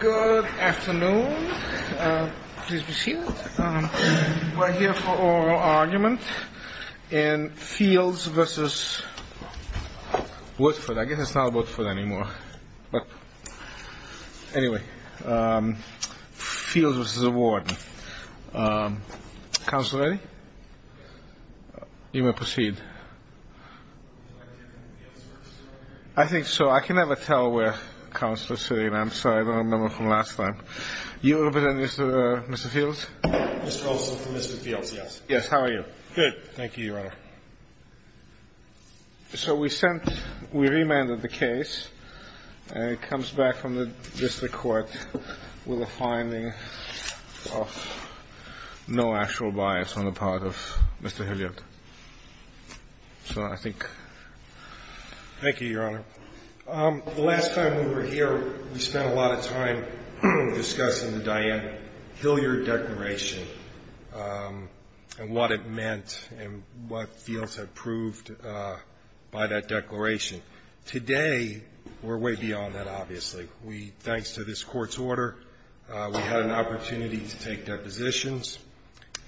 Good afternoon. Please be seated. We're here for oral argument in Fields v. Woodford. I guess it's not Woodford anymore. Anyway, Fields v. Warden. Counsel ready? You may proceed. I think so. I can never tell where counsel is sitting. I'm sorry, I don't remember from last time. You represent Mr. Fields? Mr. Colson from Mr. Fields, yes. Yes, how are you? Good, thank you, Your Honor. So we sent, we remanded the case. It comes back from the district court with a finding of no actual bias on the part of Mr. Hilliard. So I think... Thank you, Your Honor. The last time we were here, we spent a lot of time discussing the Diane Hilliard declaration and what it meant and what Fields had proved by that declaration. Today, we're way beyond that, obviously. Thanks to this court's order, we had an opportunity to take depositions,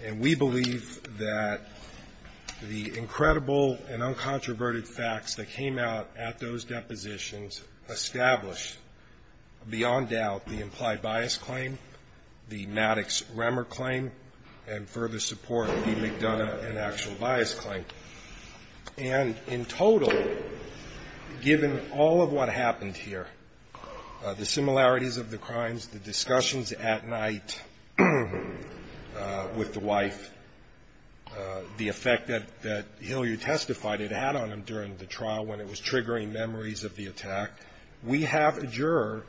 and we believe that the incredible and uncontroverted facts that came out at those depositions established beyond doubt the implied bias claim, the Maddox-Remmer claim, and further support of the McDonough and actual bias claim. And in total, given all of what happened here, the similarities of the crimes, the discussions at night with the wife, the effect that Hilliard testified it had on him during the trial when it was triggering memories of the attack, we have a juror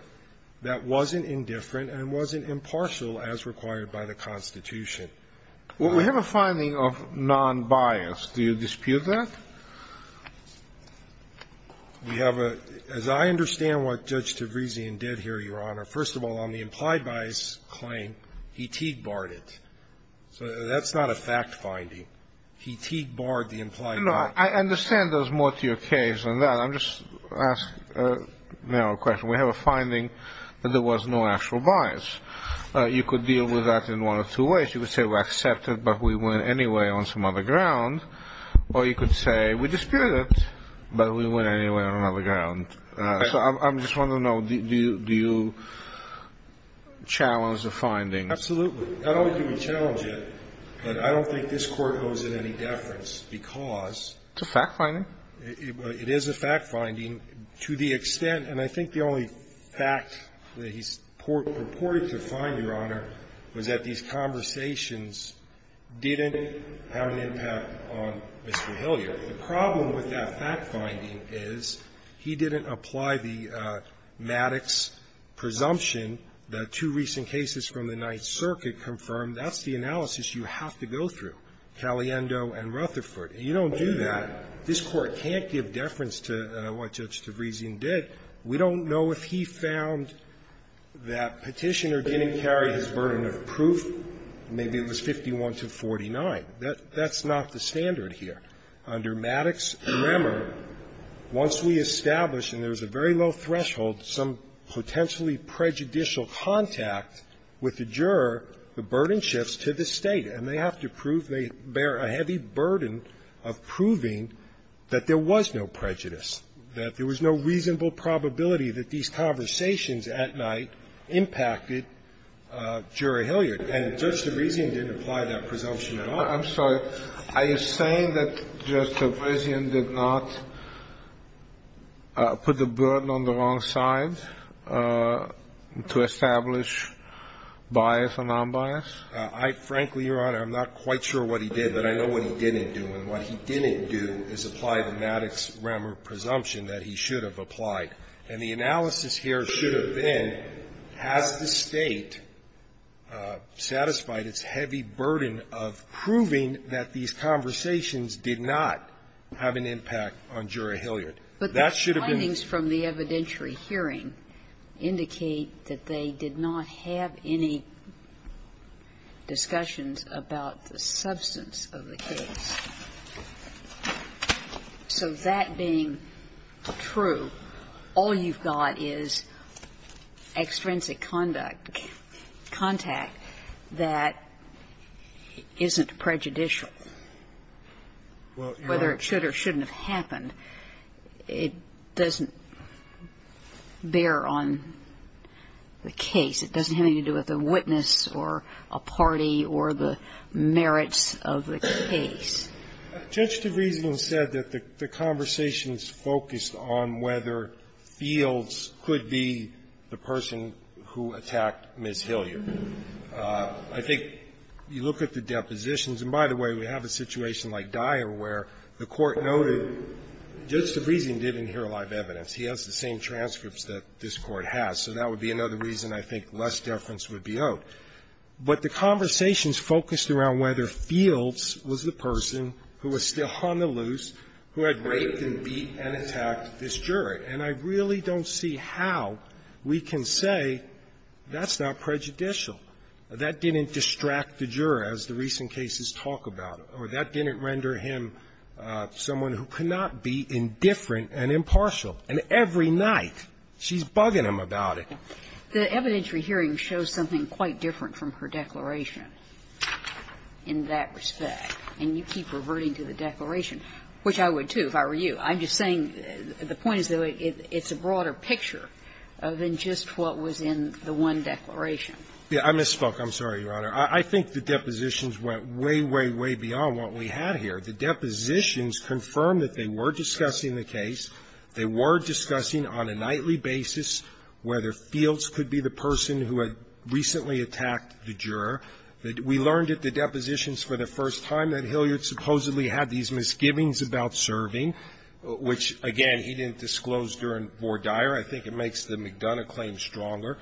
that wasn't indifferent and wasn't impartial as required by the Constitution. Well, we have a finding of non-bias. Do you dispute that? We have a — as I understand what Judge Tavrizian did here, Your Honor, first of all, on the implied bias claim, he Teague-barred it. So that's not a fact-finding. He Teague-barred the implied bias. I understand there's more to your case than that. I'm just asking now a question. We have a finding that there was no actual bias. You could deal with that in one of two ways. You could say we accept it, but we win anyway on some other ground, or you could say we dispute it, but we win anyway on another ground. So I'm just wondering, though, do you challenge the findings? Absolutely. Not only do we challenge it, but I don't think this Court owes it any deference because — It's a fact-finding. It is a fact-finding to the extent — and I think the only fact that he purported to find, Your Honor, was that these conversations didn't have an impact on Mr. Hilliard. The problem with that fact-finding is he didn't apply the Maddox presumption that two recent cases from the Ninth Circuit confirmed. That's the analysis you have to go through, Caliendo and Rutherford. And you don't do that. This Court can't give deference to what Judge Tavrezian did. We don't know if he found that Petitioner didn't carry his burden of proof. Maybe it was 51 to 49. That's not the standard here. Under Maddox's grammar, once we establish, and there's a very low threshold, some potentially prejudicial contact with the juror, the burden shifts to the State. And they have to prove they bear a heavy burden of proving that there was no prejudice, that there was no reasonable probability that these conversations at night impacted Juror Hilliard. And Judge Tavrezian didn't apply that presumption at all. I'm sorry. Are you saying that Judge Tavrezian did not put the burden on the wrong side to establish bias or nonbias? I, frankly, Your Honor, I'm not quite sure what he did, but I know what he didn't do. And what he didn't do is apply the Maddox grammar presumption that he should have And the analysis here should have been, has the State satisfied its heavy burden of proving that these conversations did not have an impact on Juror Hilliard? That should have been. But the findings from the evidentiary hearing indicate that they did not have any discussions about the substance of the case. So that being true, all you've got is extrinsic conduct, contact that isn't prejudicial. Whether it should or shouldn't have happened, it doesn't bear on the case. It doesn't have anything to do with a witness or a party or the merits of the case. Judge Tavrezian said that the conversations focused on whether Fields could be the person who attacked Ms. Hilliard. I think you look at the depositions, and by the way, we have a situation like Dyer where the Court noted Judge Tavrezian didn't hear a lot of evidence. He has the same transcripts that this Court has. So that would be another reason I think less deference would be owed. But the conversations focused around whether Fields was the person who was still on the loose, who had raped and beat and attacked this juror. And I really don't see how we can say that's not prejudicial. That didn't distract the juror, as the recent cases talk about. Or that didn't render him someone who could not be indifferent and impartial. And every night, she's bugging him about it. The evidentiary hearing shows something quite different from her declaration in that respect. And you keep reverting to the declaration, which I would, too, if I were you. I'm just saying the point is that it's a broader picture than just what was in the one declaration. I misspoke. I'm sorry, Your Honor. I think the depositions went way, way, way beyond what we had here. The depositions confirm that they were discussing the case. They were discussing on a nightly basis whether Fields could be the person who had recently attacked the juror. We learned at the depositions for the first time that Hilliard supposedly had these misgivings about serving, which, again, he didn't disclose during Vore Dyer. I think it makes the McDonough claim stronger.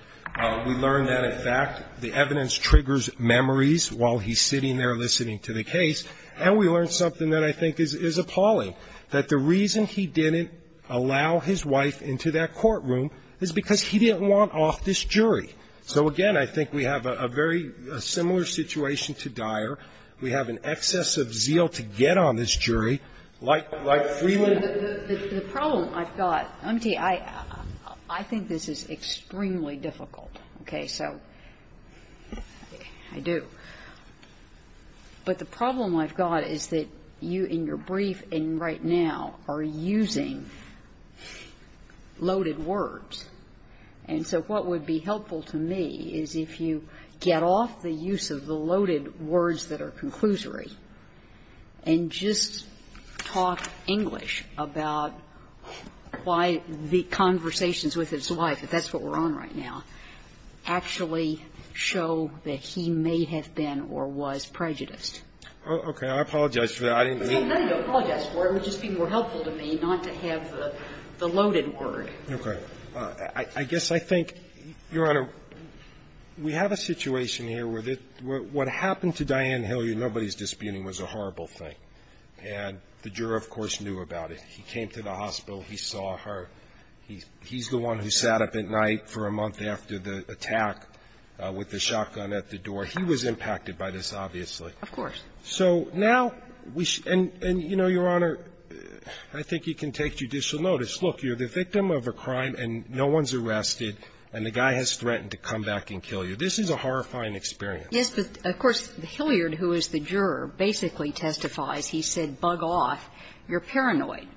We learned that, in fact, the evidence triggers memories while he's sitting there listening to the case. And we learned something that I think is appalling, that the reason he didn't allow his wife into that courtroom is because he didn't want off this jury. So, again, I think we have a very similar situation to Dyer. We have an excess of zeal to get on this jury, like Freeland. The problem I've got, I think this is extremely difficult, okay, so I do. But the problem I've got is that you, in your brief, and right now, are using loaded words. And so what would be helpful to me is if you get off the use of the loaded words that are conclusory and just talk English about why the conversations with his wife, if that's what we're on right now, actually show that he may have been or was prejudiced. Okay. I apologize for that. I didn't mean to. No, no, no, I apologize for it. It would just be more helpful to me not to have the loaded word. Okay. I guess I think, Your Honor, we have a situation here where what happened to Dianne Hilliard, nobody's disputing, was a horrible thing. And the juror, of course, knew about it. He came to the hospital. He saw her. He's the one who sat up at night for a month after the attack with the shotgun at the door. He was impacted by this, obviously. Of course. So now we should – and, you know, Your Honor, I think you can take judicial notice. Look, you're the victim of a crime and no one's arrested, and the guy has threatened to come back and kill you. This is a horrifying experience. Yes, but, of course, Hilliard, who is the juror, basically testifies. He said, bug off. You're paranoid.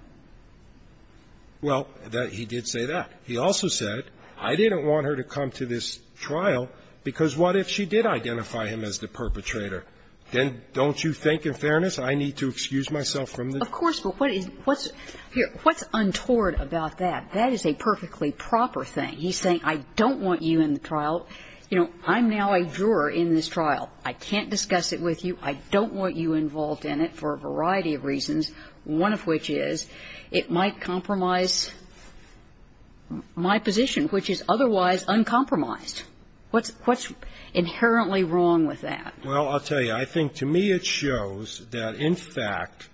Well, he did say that. He also said, I didn't want her to come to this trial, because what if she did identify him as the perpetrator? Then don't you think, in fairness, I need to excuse myself from the – Of course, but what is – here, what's untoward about that? That is a perfectly proper thing. He's saying, I don't want you in the trial. You know, I'm now a juror in this trial. I can't discuss it with you. I can't discuss it with you, because it might compromise my position, which is otherwise uncompromised. What's inherently wrong with that? Well, I'll tell you. I think to me it shows that, in fact,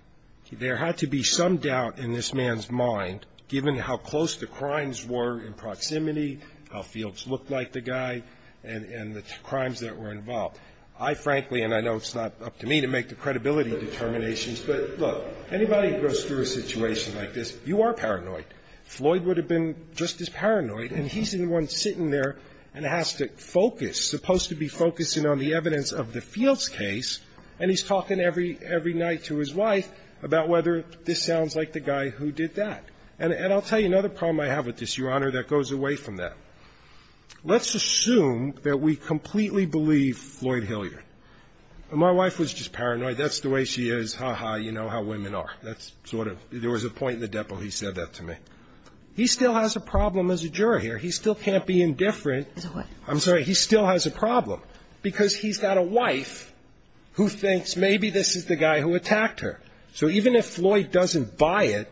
there had to be some doubt in this man's mind, given how close the crimes were in proximity, how fields looked like the guy, and the crimes that were involved. I, frankly, and I know it's not up to me to make the credibility determinations, but, look, anybody who goes through a situation like this, you are paranoid. Floyd would have been just as paranoid, and he's the one sitting there and has to focus, supposed to be focusing on the evidence of the Fields case, and he's talking every – every night to his wife about whether this sounds like the guy who did that. And I'll tell you another problem I have with this, Your Honor, that goes away from that. Let's assume that we completely believe Floyd Hilliard. My wife was just paranoid. That's the way she is. Ha, ha, you know how women are. That's sort of – there was a point in the depo he said that to me. He still has a problem as a juror here. He still can't be indifferent. I'm sorry. He still has a problem, because he's got a wife who thinks maybe this is the guy who attacked her. So even if Floyd doesn't buy it,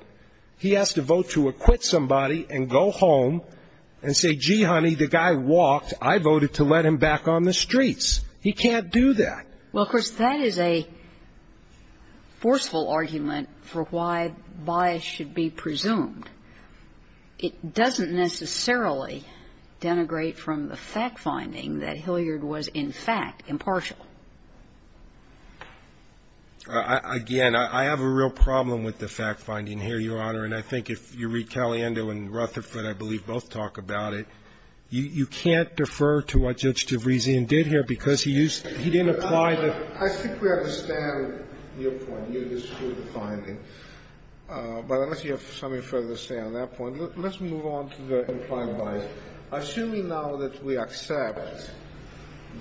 he has to vote to acquit somebody and go home and say, gee, honey, the guy walked. I voted to let him back on the streets. He can't do that. Well, of course, that is a forceful argument for why bias should be presumed. It doesn't necessarily denigrate from the fact-finding that Hilliard was, in fact, impartial. Again, I have a real problem with the fact-finding here, Your Honor, and I think if you read Caliendo and Rutherford, I believe both talk about it, you can't defer to what Judge DeVrisian did here, because he used – he didn't apply the – I think we understand your point. You dispute the finding. But unless you have something further to say on that point, let's move on to the implied bias. Assuming now that we accept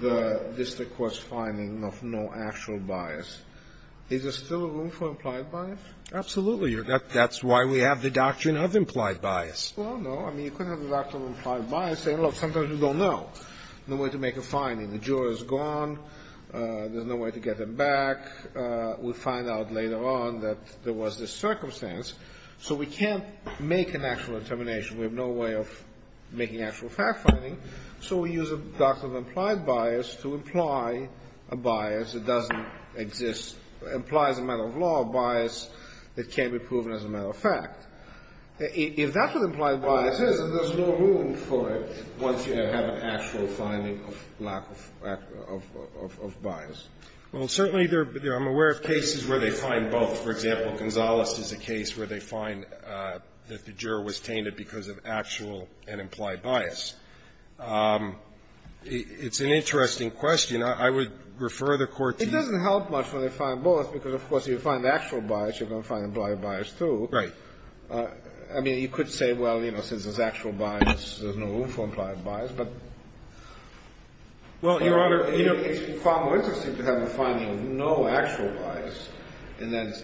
the district court's finding of no actual bias, is there still room for implied bias? Absolutely. That's why we have the doctrine of implied bias. Well, no. I mean, you couldn't have the doctrine of implied bias saying, look, sometimes you don't know. No way to make a finding. The juror is gone. There's no way to get them back. We'll find out later on that there was this circumstance. So we can't make an actual determination. We have no way of making actual fact-finding. So we use a doctrine of implied bias to imply a bias that doesn't exist – implies a matter of law, a bias that can't be proven as a matter of fact. If that's what implied bias is, then there's no room for it once you have an actual finding of lack of – of bias. Well, certainly there are – I'm aware of cases where they find both. For example, Gonzales is a case where they find that the juror was tainted because of actual and implied bias. It's an interesting question. I would refer the Court to you. It doesn't help much when they find both because, of course, if you find actual bias, you're going to find implied bias, too. Right. I mean, you could say, well, you know, since there's actual bias, there's no room for implied bias, but – Well, Your Honor, you know, it's far more interesting to have a finding of no actual bias and then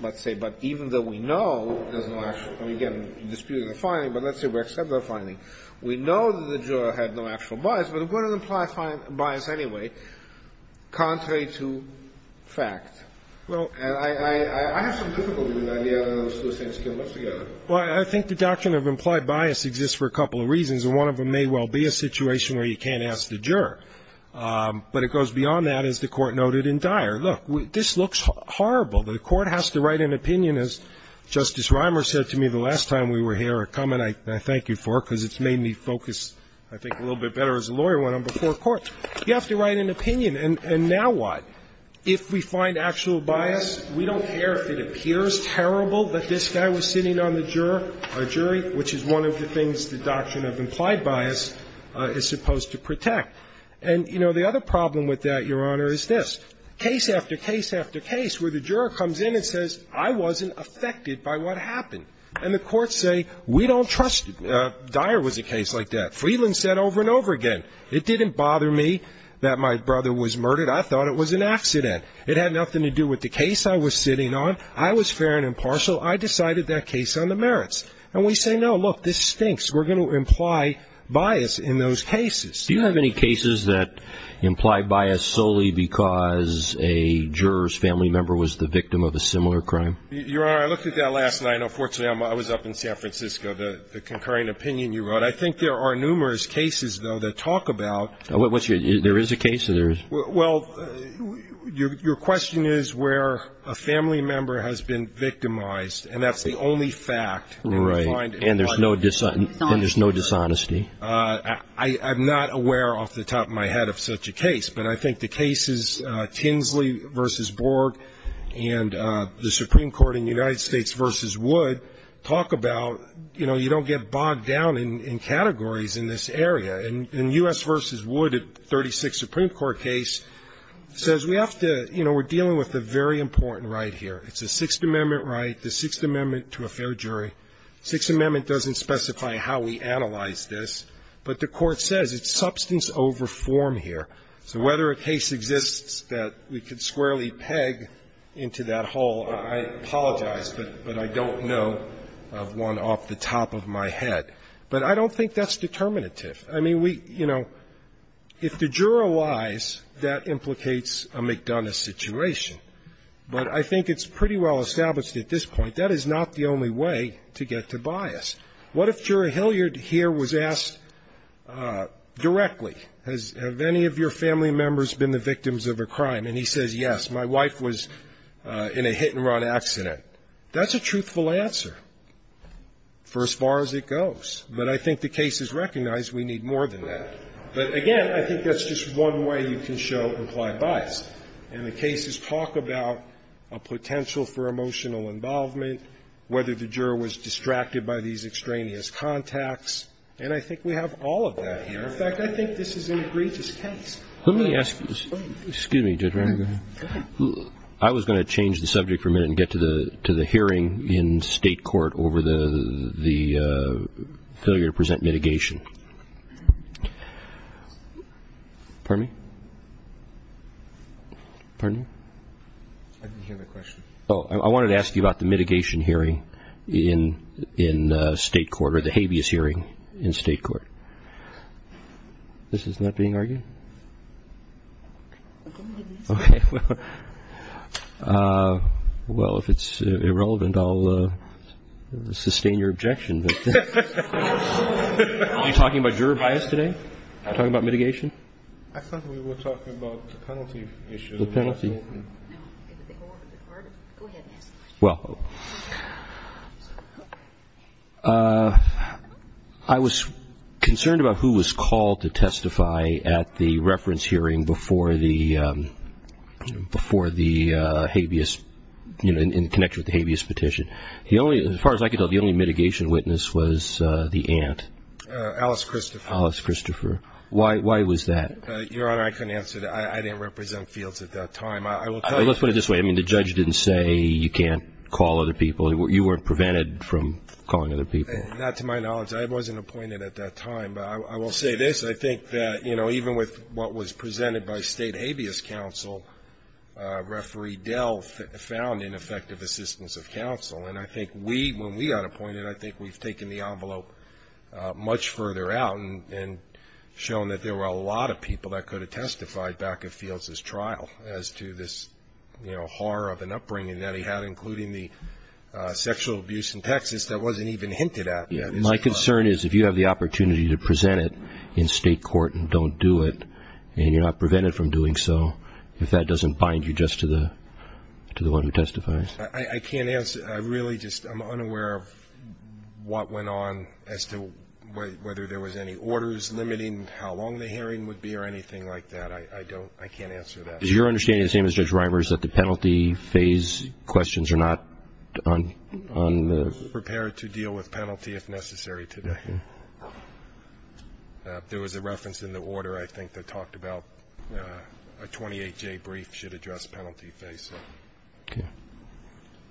let's say – but even though we know there's no actual – I mean, again, disputing the finding, but let's say we accept that finding. We know that the juror had no actual bias, but it wouldn't imply bias anyway, contrary to fact. Well, I – I have some difficulty with the idea of those two things coming together. Well, I think the doctrine of implied bias exists for a couple of reasons, and one of them may well be a situation where you can't ask the juror. But it goes beyond that, as the Court noted in Dyer. Look, this looks horrible. The Court has to write an opinion, as Justice Reimer said to me the last time we were here, a comment I thank you for because it's made me focus, I think, a little bit better as a lawyer when I'm before court. You have to write an opinion. And now what? If we find actual bias, we don't care if it appears terrible that this guy was sitting on the juror – jury, which is one of the things the doctrine of implied bias is supposed to protect. And, you know, the other problem with that, Your Honor, is this. Case after case after case where the juror comes in and says, I wasn't affected by what happened. And the courts say, we don't trust – Dyer was a case like that. Friedland said over and over again, it didn't bother me that my brother was murdered. I thought it was an accident. It had nothing to do with the case I was sitting on. I was fair and impartial. I decided that case on the merits. And we say, no, look, this stinks. We're going to imply bias in those cases. Do you have any cases that imply bias solely because a juror's family member was the victim of a similar crime? Your Honor, I looked at that last night. Unfortunately, I was up in San Francisco. The concurring opinion you wrote. I think there are numerous cases, though, that talk about – What's your – there is a case or there is – Well, your question is where a family member has been victimized. And that's the only fact. Right. And you find – And there's no dishonesty. And there's no dishonesty. I'm not aware off the top of my head of such a case. But I think the cases Tinsley v. Borg and the Supreme Court in the United States v. Wood talk about, you know, you don't get bogged down in categories in this area. And U.S. v. Wood, a 36th Supreme Court case, says we have to – you know, we're dealing with a very important right here. It's a Sixth Amendment right, the Sixth Amendment to a fair jury. Sixth Amendment doesn't specify how we analyze this. But the Court says it's substance over form here. So whether a case exists that we could squarely peg into that hole, I apologize, but I don't know of one off the top of my head. But I don't think that's determinative. I mean, we – you know, if the juror lies, that implicates a McDonough situation. But I think it's pretty well established at this point that is not the only way to get to bias. What if Jura Hilliard here was asked directly, have any of your family members been the victims of a crime? And he says, yes, my wife was in a hit-and-run accident. That's a truthful answer for as far as it goes. But I think the case has recognized we need more than that. But again, I think that's just one way you can show implied bias. And the cases talk about a potential for emotional involvement, whether the juror was distracted by these extraneous contacts. And I think we have all of that here. In fact, I think this is an egregious case. Let me ask you – excuse me, Judge Reiner, go ahead. Go ahead. I was going to change the subject for a minute and get to the hearing in State court over the failure to present mitigation. Pardon me? Pardon me? I didn't hear the question. Oh, I wanted to ask you about the mitigation hearing in State court, or the habeas hearing in State court. This is not being argued? Okay. Well, if it's irrelevant, I'll sustain your objection. Are you talking about juror bias today? Are you talking about mitigation? I thought we were talking about the penalty issue. The penalty. Well, I was concerned about who was called to testify at the reference hearing before the habeas – in connection with the habeas petition. As far as I could tell, the only mitigation witness was the aunt. Alice Christopher. Alice Christopher. Why was that? Your Honor, I couldn't answer that. I didn't represent fields at that time. Let's put it this way. The judge didn't say you can't call other people. You weren't prevented from calling other people. Not to my knowledge. I wasn't appointed at that time. I will say this. I think that, you know, even with what was presented by State habeas counsel, Referee Dell found ineffective assistance of counsel. And I think we, when we got appointed, I think we've taken the envelope much further out and shown that there were a lot of people that could have testified back at Fields' trial as to this, you know, horror of an upbringing that he had, including the sexual abuse in Texas, that wasn't even hinted at. My concern is if you have the opportunity to present it in State court and don't do it and you're not prevented from doing so, if that doesn't bind you just to the one who testifies. I can't answer. I really just am unaware of what went on as to whether there was any orders limiting how long the hearing would be or anything like that. I don't – I can't answer that. Is your understanding, the same as Judge Reimers, that the penalty phase questions are not on the – We're prepared to deal with penalty if necessary today. There was a reference in the order, I think, that talked about a 28-J brief should address penalty phase. Okay.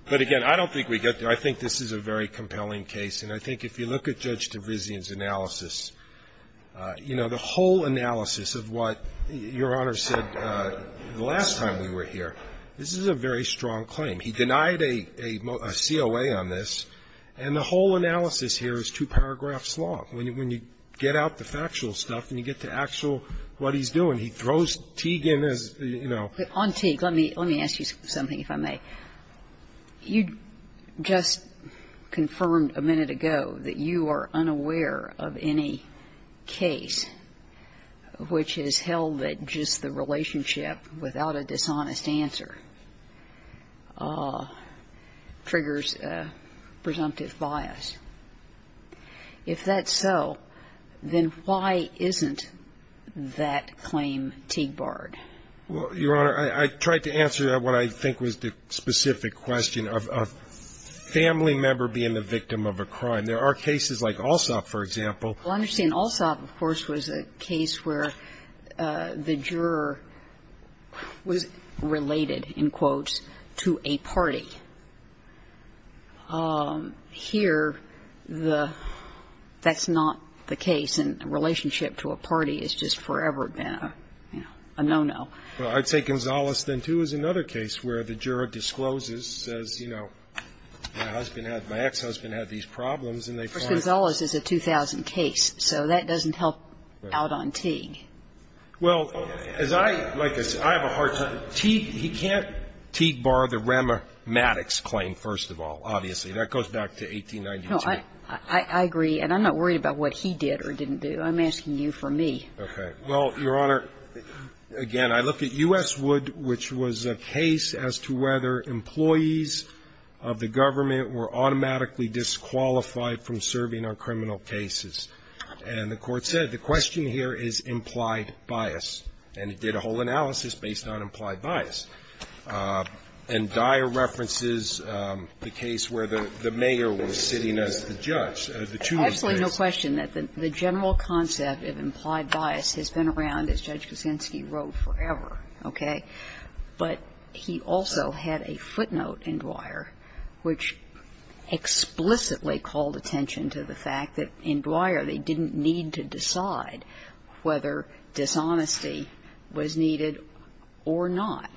But, again, I don't think we get there. I think this is a very compelling case. And I think if you look at Judge Tavizian's analysis, you know, the whole analysis of what Your Honor said the last time we were here, this is a very strong claim. He denied a COA on this. And the whole analysis here is two paragraphs long. When you get out the factual stuff and you get to actual what he's doing, he throws Teague in as, you know. On Teague, let me ask you something, if I may. You just confirmed a minute ago that you are unaware of any case which has held that without a dishonest answer triggers presumptive bias. If that's so, then why isn't that claim Teague barred? Well, Your Honor, I tried to answer what I think was the specific question of a family member being the victim of a crime. There are cases like Alsop, for example. Well, I understand Alsop, of course, was a case where the juror was related, in quotes, to a party. Here, the – that's not the case. And a relationship to a party has just forever been, you know, a no-no. Well, I'd say Gonzales then, too, is another case where the juror discloses, says, you know, my husband had – my ex-husband had these problems and they find – But Gonzales is a 2000 case, so that doesn't help out on Teague. Well, as I – like I said, I have a hard time. Teague – he can't Teague bar the rheumatics claim, first of all, obviously. That goes back to 1892. No, I agree. And I'm not worried about what he did or didn't do. I'm asking you for me. Okay. Well, Your Honor, again, I look at U.S. Wood, which was a case as to whether employees of the government were automatically disqualified from serving on criminal cases. And the Court said the question here is implied bias. And it did a whole analysis based on implied bias. And Dyer references the case where the mayor was sitting as the judge, the two of these cases. Absolutely no question that the general concept of implied bias has been around, as Judge Kuczynski wrote, forever, okay? But he also had a footnote in Dyer which explicitly called attention to the fact that in Dyer they didn't need to decide whether dishonesty was needed or not.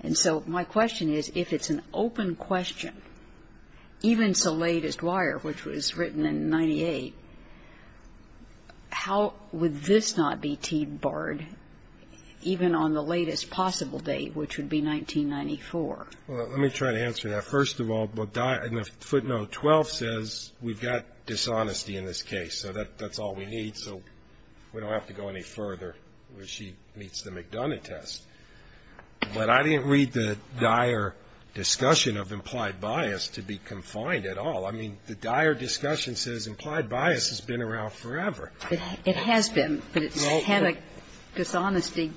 And so my question is, if it's an open question, even so late as Dyer, which was 1994. Well, let me try to answer that. First of all, footnote 12 says we've got dishonesty in this case. So that's all we need. So we don't have to go any further where she meets the McDonough test. But I didn't read the Dyer discussion of implied bias to be confined at all. I mean, the Dyer discussion says implied bias has been around forever. It has been, but it's had a dishonesty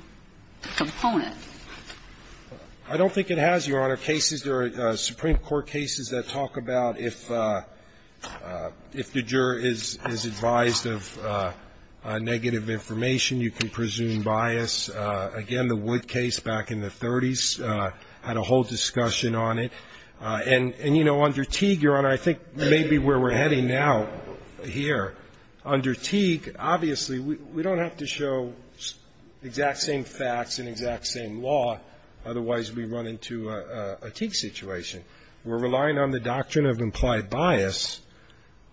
component. I don't think it has, Your Honor. Cases, there are Supreme Court cases that talk about if the juror is advised of negative information, you can presume bias. Again, the Wood case back in the 30s had a whole discussion on it. And, you know, under Teague, Your Honor, I think maybe where we're heading now here, under Teague, obviously, we don't have to show exact same facts and exact same law. Otherwise, we run into a Teague situation. We're relying on the doctrine of implied bias,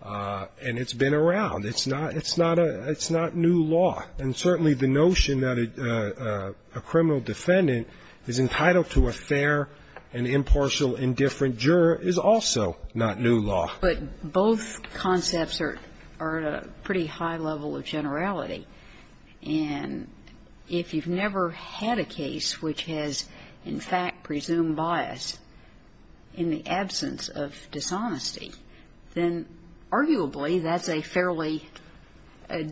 and it's been around. It's not a new law. And certainly the notion that a criminal defendant is entitled to a fair and impartial indifferent juror is also not new law. But both concepts are at a pretty high level of generality. And if you've never had a case which has, in fact, presumed bias in the absence of dishonesty, then arguably that's a fairly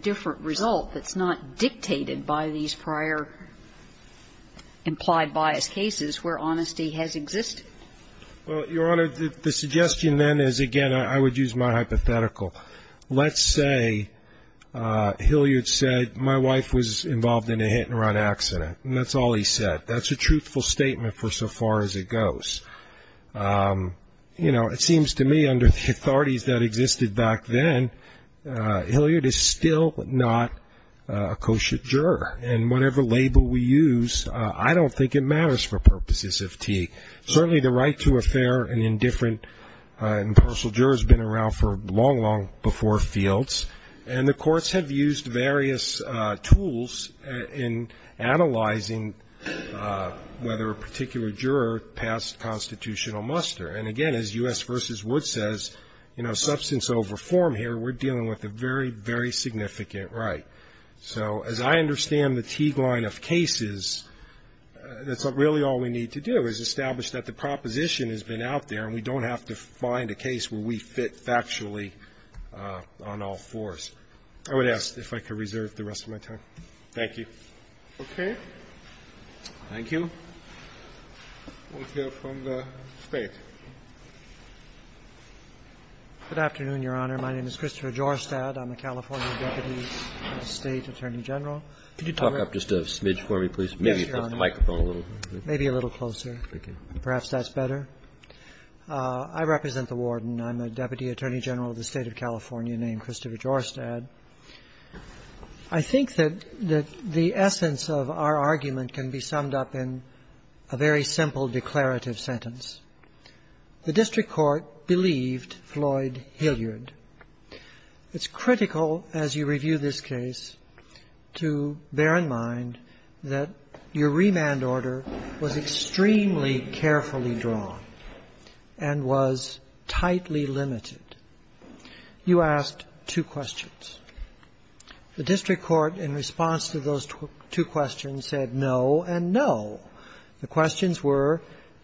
different result that's not dictated by these prior implied bias cases where honesty has existed. Well, Your Honor, the suggestion then is, again, I would use my hypothetical. Let's say Hilliard said my wife was involved in a hit-and-run accident, and that's all he said. That's a truthful statement for so far as it goes. You know, it seems to me under the authorities that existed back then, Hilliard is still not a kosher juror. And whatever label we use, I don't think it matters for purposes of Teague. Certainly the right to a fair and indifferent impartial juror has been around for long, long before fields. And the courts have used various tools in analyzing whether a particular juror passed constitutional muster. And, again, as U.S. v. Wood says, you know, substance of reform here, we're dealing with a very, very significant right. So as I understand the Teague line of cases, that's really all we need to do is establish that the proposition has been out there, and we don't have to find a case where we fit factually on all fours. I would ask if I could reserve the rest of my time. Thank you. Roberts. Okay. Thank you. We'll hear from the State. Good afternoon, Your Honor. My name is Christopher Jorstad. I'm a California Deputy State Attorney General. Could you talk up just a smidge for me, please? Yes, Your Honor. Maybe put the microphone a little closer. Maybe a little closer. Thank you. Perhaps that's better. I represent the Warden. I'm a Deputy Attorney General of the State of California named Christopher Jorstad. I think that the essence of our argument can be summed up in a very simple declarative sentence. The district court believed Floyd Hilliard. It's critical, as you review this case, to bear in mind that your remand order was extremely carefully drawn and was tightly limited. You asked two questions. The district court, in response to those two questions, said no and no. The questions were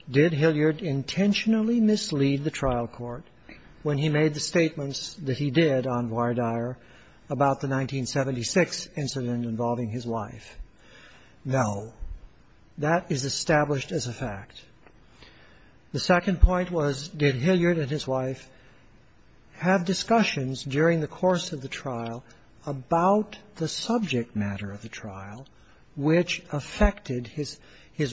did Hilliard intentionally mislead the trial court when he made the statements that he did on Vardyar about the 1976 incident involving his wife? No. That is established as a fact. The second point was did Hilliard and his wife have discussions during the course of the trial about the subject matter of the trial which affected his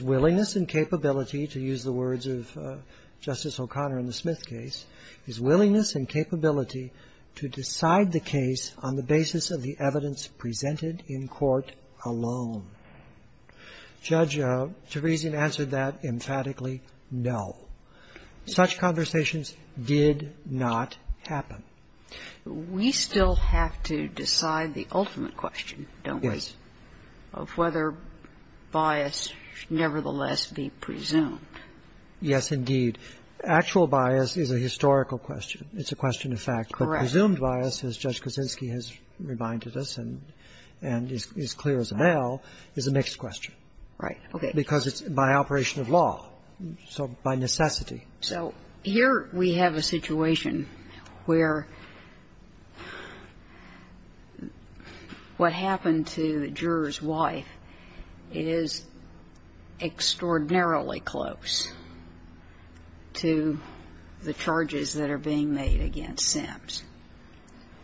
willingness and capability to use the words of Justice O'Connor in the Smith case, his willingness and capability to decide the case on the basis of the evidence presented in court alone? Judge Teresian answered that emphatically, no. Such conversations did not happen. We still have to decide the ultimate question, don't we? Yes. Of whether bias should nevertheless be presumed. Yes, indeed. Actual bias is a historical question. It's a question of fact. Correct. But presumed bias, as Judge Kaczynski has reminded us and is clear as a bell, is a mixed question. Right. Okay. Because it's by operation of law. So by necessity. So here we have a situation where what happened to the juror's wife is extraordinarily close to the charges that are being made against Sims.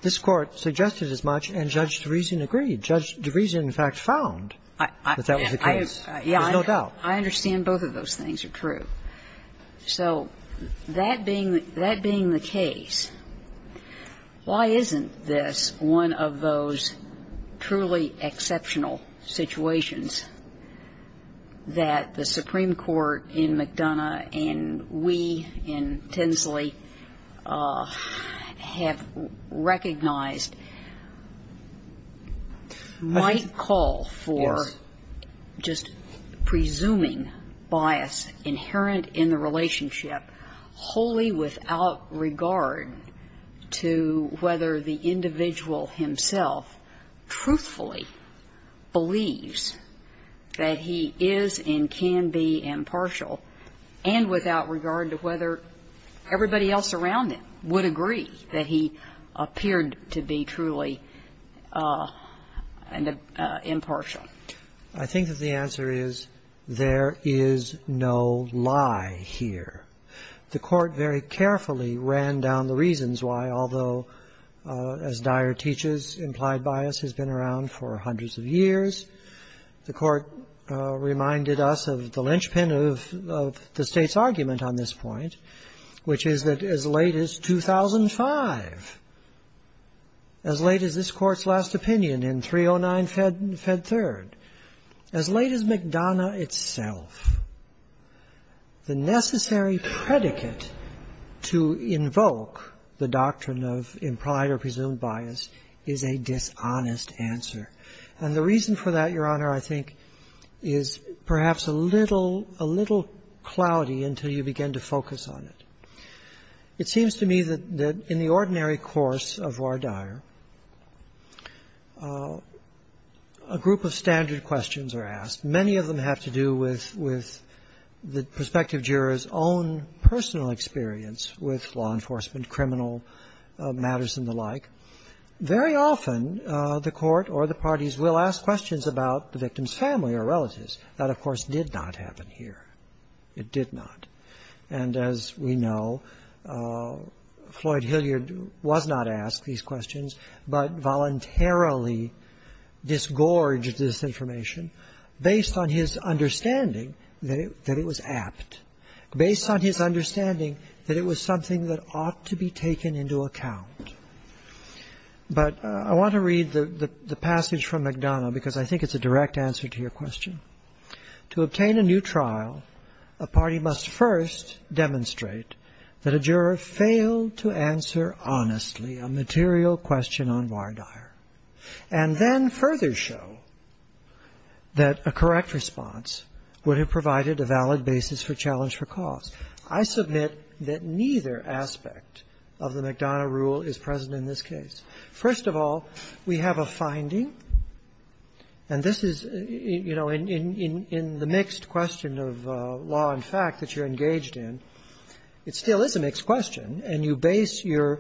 This Court suggested as much, and Judge Teresian agreed. Judge Teresian, in fact, found that that was the case. There's no doubt. I understand both of those things are true. So that being the case, why isn't this one of those truly exceptional situations that the Supreme Court in McDonough and we in Tinsley have recognized might call for just presuming bias inherent in the relationship wholly without regard to whether the defendant is and can be impartial and without regard to whether everybody else around him would agree that he appeared to be truly impartial? I think that the answer is there is no lie here. The Court very carefully ran down the reasons why, although, as Dyer teaches, implied bias has been around for hundreds of years. The Supreme Court reminded us of the linchpin of the State's argument on this point, which is that as late as 2005, as late as this Court's last opinion in 309 Fed Third, as late as McDonough itself, the necessary predicate to invoke the doctrine of implied or presumed bias is a dishonest answer. And the reason for that, Your Honor, I think, is perhaps a little, a little cloudy until you begin to focus on it. It seems to me that in the ordinary course of voir dire, a group of standard questions are asked. Many of them have to do with the prospective juror's own personal experience with law enforcement, criminal matters and the like. Very often the Court or the parties will ask questions about the victim's family or relatives. That, of course, did not happen here. It did not. And as we know, Floyd Hilliard was not asked these questions, but voluntarily disgorged this information based on his understanding that it was apt, based on his understanding that it was something that ought to be taken into account. But I want to read the passage from McDonough, because I think it's a direct answer to your question. To obtain a new trial, a party must first demonstrate that a juror failed to answer honestly a material question on voir dire, and then further show that a correct response would have provided a valid basis for challenge for cause. I submit that neither aspect of the McDonough rule is present in this case. First of all, we have a finding, and this is, you know, in the mixed question of law and fact that you're engaged in, it still is a mixed question, and you base your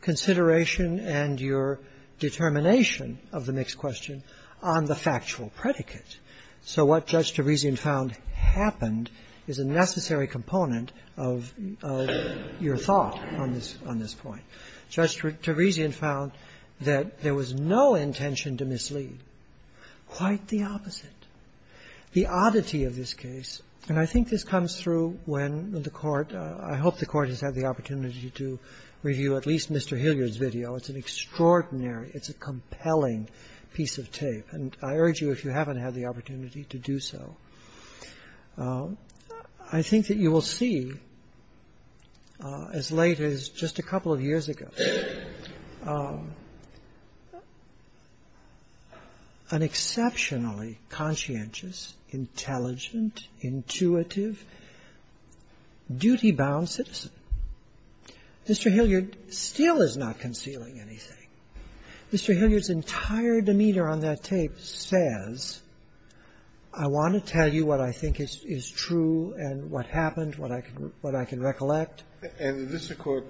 consideration and your determination of the mixed question on the factual predicate. So what Judge Teresian found happened is a necessary component of your thought on this point. Judge Teresian found that there was no intention to mislead. Quite the opposite. The oddity of this case, and I think this comes through when the Court – I hope the Court has had the opportunity to review at least Mr. Hilliard's video. It's an extraordinary, it's a compelling piece of tape. And I urge you, if you haven't had the opportunity to do so, I think that you will see as late as just a couple of years ago an exceptionally conscientious, intelligent, intuitive, duty-bound citizen. Mr. Hilliard still is not concealing anything. Mr. Hilliard's entire demeanor on that tape says, I want to tell you what I think is true and what happened, what I can recollect. And the district court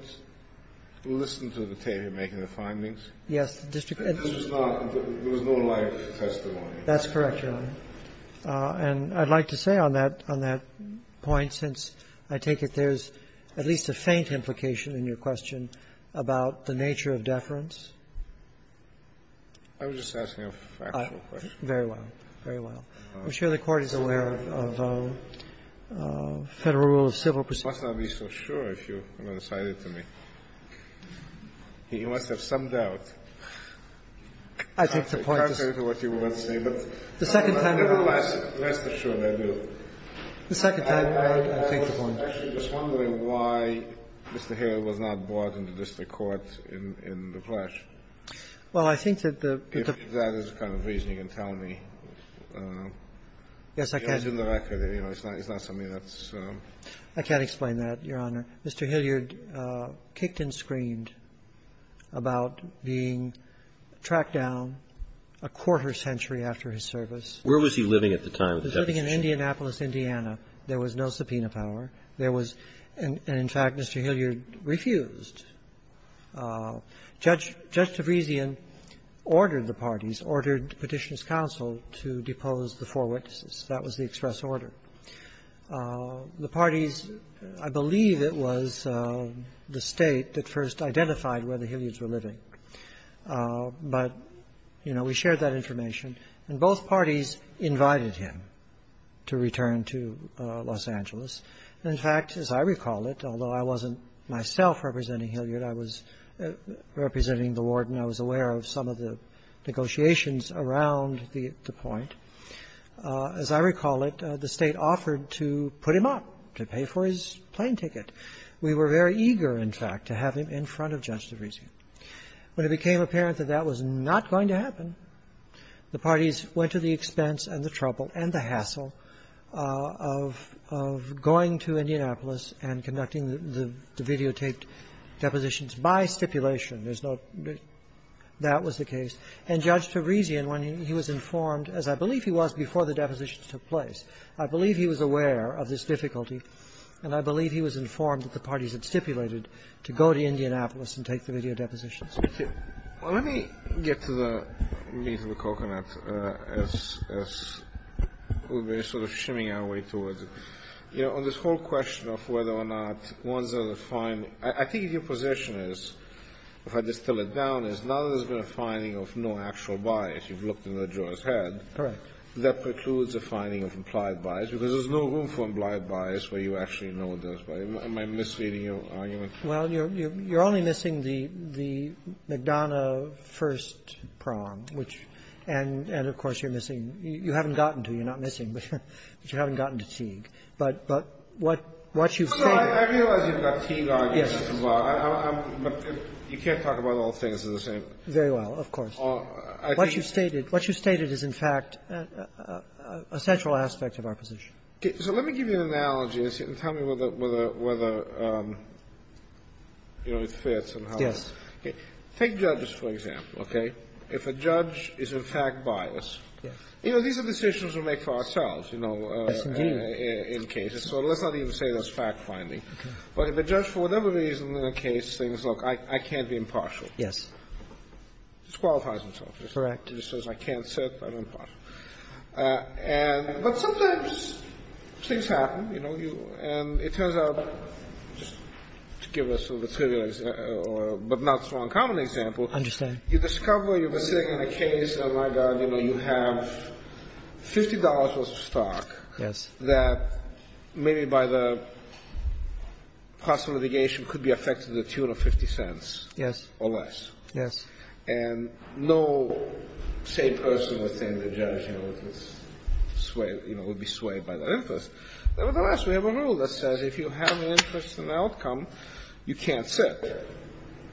listened to the tape in making the findings? Yes, the district court. And this was not – there was no life testimony? That's correct, Your Honor. And I'd like to say on that point, since I take it there's at least a faint implication in your question about the nature of deference. I was just asking a factual question. Very well, very well. I'm sure the Court is aware of Federal rule of civil procedure. I must not be so sure if you're going to cite it to me. You must have some doubt. I take the point. I can't say what you want to say, but I'm never less assured I do. The second time around, I take the point. I'm actually just wondering why Mr. Hilliard was not brought into the district court in the flesh. Well, I think that the – If that is the kind of reason you can tell me. Yes, I can. It's in the record. It's not something that's – I can't explain that, Your Honor. Mr. Hilliard kicked and screamed about being tracked down a quarter century after his service. Where was he living at the time? He was living in Indianapolis, Indiana. There was no subpoena power. There was – and, in fact, Mr. Hilliard refused. Judge Tavresian ordered the parties, ordered Petitioner's counsel to depose the four witnesses. That was the express order. The parties – I believe it was the State that first identified where the Hilliards were living. But, you know, we shared that information. And both parties invited him to return to Los Angeles. In fact, as I recall it, although I wasn't myself representing Hilliard, I was representing the warden. I was aware of some of the negotiations around the point. As I recall it, the State offered to put him up to pay for his plane ticket. We were very eager, in fact, to have him in front of Judge Tavresian. When it became apparent that that was not going to happen, the parties went to the expense and the trouble and the hassle of going to Indianapolis and conducting the videotaped depositions by stipulation. There's no – that was the case. And Judge Tavresian, when he was informed, as I believe he was before the depositions took place – I believe he was aware of this difficulty, and I believe he was informed that the parties had stipulated to go to Indianapolis and take the video depositions. Kennedy. Well, let me get to the meat of the coconut as we've been sort of shimmying our way towards it. You know, on this whole question of whether or not ones that are finding – I think your position is, if I distill it down, is now there's been a finding of no actual bias. You've looked in the judge's head. Correct. That precludes a finding of implied bias, because there's no room for implied bias where you actually know there's bias. Am I misreading your argument? Well, you're only missing the McDonough first prong, which – and, of course, you're missing – you haven't gotten to. You're not missing, but you haven't gotten to Teague. But what you've stated – Well, I realize you've got Teague arguments as well. Yes. But you can't talk about all things the same. Very well, of course. What you've stated – what you've stated is, in fact, a central aspect of our position. So let me give you an analogy and tell me whether, you know, it fits and how it fits. Yes. Take judges, for example, okay? If a judge is, in fact, biased – you know, these are decisions we make for ourselves, you know, in cases. Yes, indeed. So let's not even say that's fact-finding. But if a judge, for whatever reason, in a case thinks, look, I can't be impartial. Yes. Disqualifies himself. Correct. He just says I can't sit, I'm impartial. And – but sometimes things happen, you know. And it turns out – just to give us a trivial example, but not so uncommon example. I understand. You discover you've been sitting in a case and, oh, my God, you know, you have $50 worth of stock. Yes. That maybe by the cost of litigation could be affected to the tune of 50 cents. Yes. Yes. And no sane person would think the judge, you know, would sway – you know, would be swayed by that interest. Nevertheless, we have a rule that says if you have an interest in the outcome, you can't sit.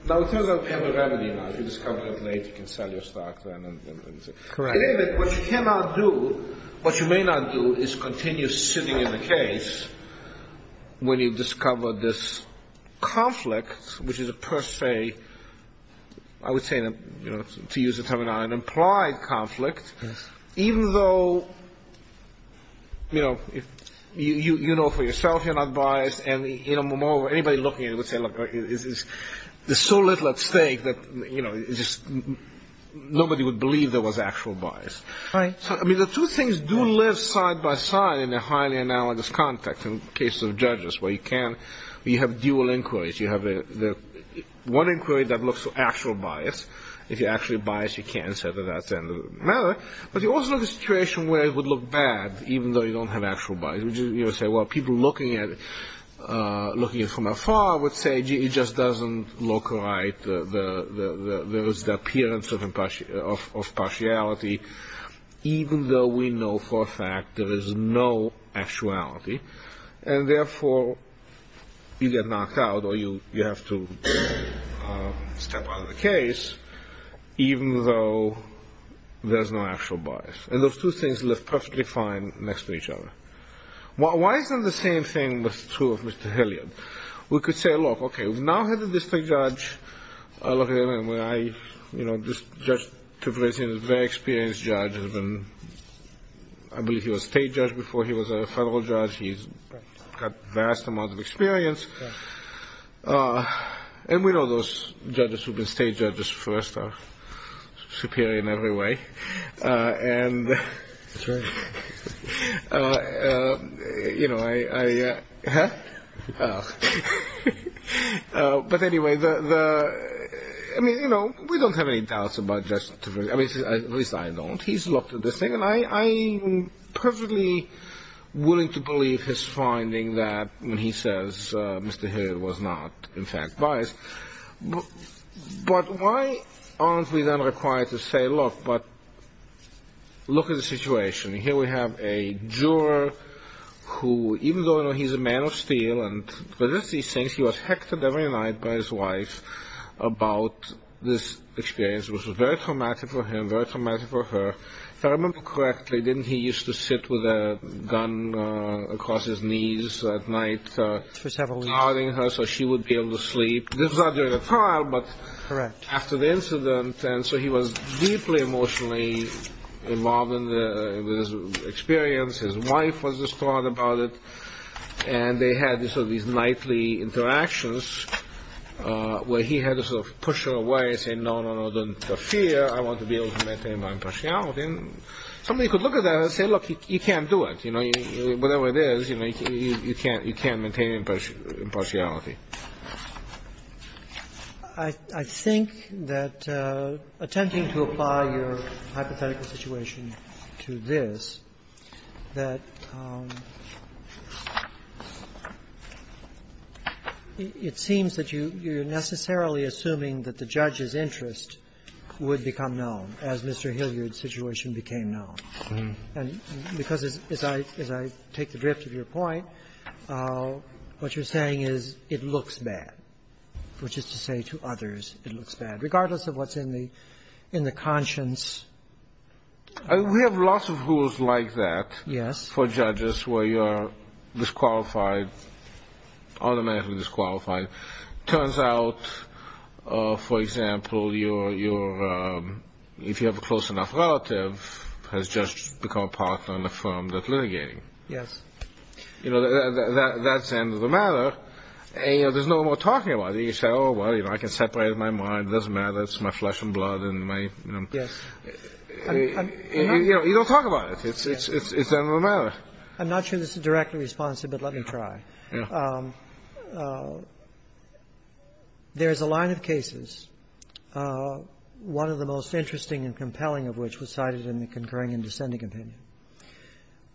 Now, it turns out we have a remedy now. If you discover it late, you can sell your stock then. Correct. In any event, what you cannot do – what you may not do is continue sitting in the case when you discover this conflict, which is a per se – I would say, you know, to use a term now, an implied conflict, even though, you know, you know for yourself you're not biased. And, you know, moreover, anybody looking at it would say, look, there's so little at stake that, you know, nobody would believe there was actual bias. Right. I mean, the two things do live side by side in a highly analogous context in cases of judges where you can – you have dual inquiries. You have one inquiry that looks for actual bias. If you're actually biased, you can say that that's the end of the matter. But you also have a situation where it would look bad, even though you don't have actual bias. You would say, well, people looking at it from afar would say, gee, it just doesn't look right. There is the appearance of partiality, even though we know for a fact there is no actuality. And, therefore, you get knocked out or you have to step out of the case, even though there's no actual bias. And those two things live perfectly fine next to each other. Why isn't the same thing true of Mr. Hilliard? We could say, look, okay, we've now had a district judge. I look at him and I, you know, this judge is a very experienced judge. I believe he was a state judge before he was a federal judge. He's got vast amounts of experience. And we know those judges who have been state judges first are superior in every way. That's right. And, you know, I – huh? But, anyway, the – I mean, you know, we don't have any doubts about Justice – I mean, at least I don't. He's looked at this thing, and I'm perfectly willing to believe his finding that when he says Mr. Hilliard was not, in fact, biased. But why aren't we then required to say, look, but look at the situation. Here we have a juror who, even though, you know, he's a man of steel and does these things, he was heckled every night by his wife about this experience, which was very traumatic for him, very traumatic for her. If I remember correctly, didn't he used to sit with a gun across his knees at night? For several weeks. Guarding her so she would be able to sleep. This was not during the trial, but after the incident. Correct. And so he was deeply emotionally involved in this experience. His wife was distraught about it. And they had sort of these nightly interactions where he had to sort of push her away and say, no, no, no, don't interfere. I want to be able to maintain my impartiality. And somebody could look at that and say, look, you can't do it. You know, whatever it is, you know, you can't maintain impartiality. I think that, attempting to apply your hypothetical situation to this, that it seems that you're necessarily assuming that the judge's interest would become known as Mr. Hilliard's situation became known. And because, as I take the drift of your point, what you're saying is it looks bad, which is to say to others it looks bad, regardless of what's in the conscience. We have lots of rules like that. Yes. For judges where you are disqualified, automatically disqualified. It turns out, for example, if you have a close enough relative, a judge becomes a partner in the firm that's litigating. Yes. You know, that's the end of the matter. And, you know, there's no more talking about it. You say, oh, well, you know, I can separate my mind. It doesn't matter. It's my flesh and blood. Yes. You know, you don't talk about it. It's the end of the matter. I'm not sure this is directly responsive, but let me try. Yes. There is a line of cases, one of the most interesting and compelling of which was cited in the concurring and dissenting opinion,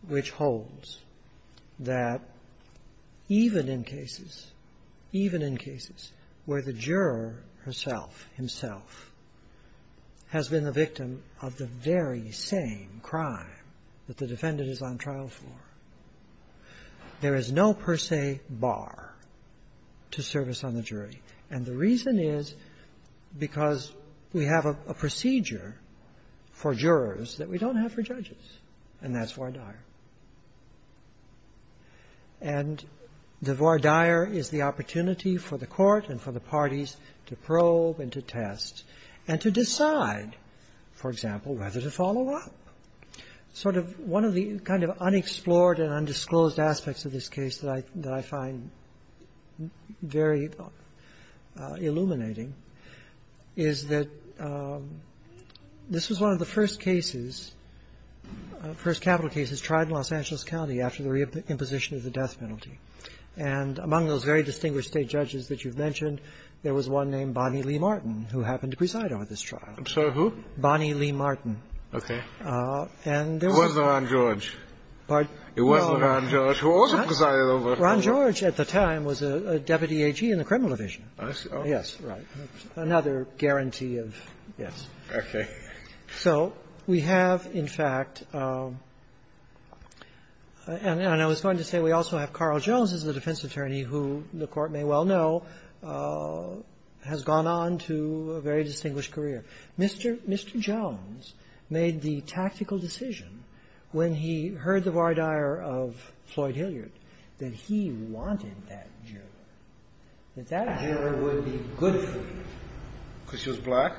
which holds that even in cases, even in cases where the juror herself, himself, has been the victim of the very same crime that the defendant is on trial for, there is no per se bar to service on the jury. And the reason is because we have a procedure for jurors that we don't have for judges, and that's voir dire. And the voir dire is the opportunity for the court and for the parties to probe and to test and to decide, for example, whether to follow up. Sort of one of the kind of unexplored and undisclosed aspects of this case that I find very illuminating is that this was one of the first cases, first capital cases, tried in Los Angeles County after the reimposition of the death penalty. And among those very distinguished State judges that you've mentioned, there was one named Bonnie Lee Martin who happened to preside over this trial. I'm sorry, who? Bonnie Lee Martin. Okay. It wasn't Ron George. Pardon? It wasn't Ron George, who also presided over it. Ron George at the time was a deputy AG in the criminal division. I see. Yes. Right. Another guarantee of yes. Okay. So we have, in fact, and I was going to say we also have Carl Jones as the defense attorney who the Court may well know has gone on to a very distinguished career. Mr. Jones made the tactical decision when he heard the voir dire of Floyd Hilliard that he wanted that juror, that that juror would be good for him. Because she was black?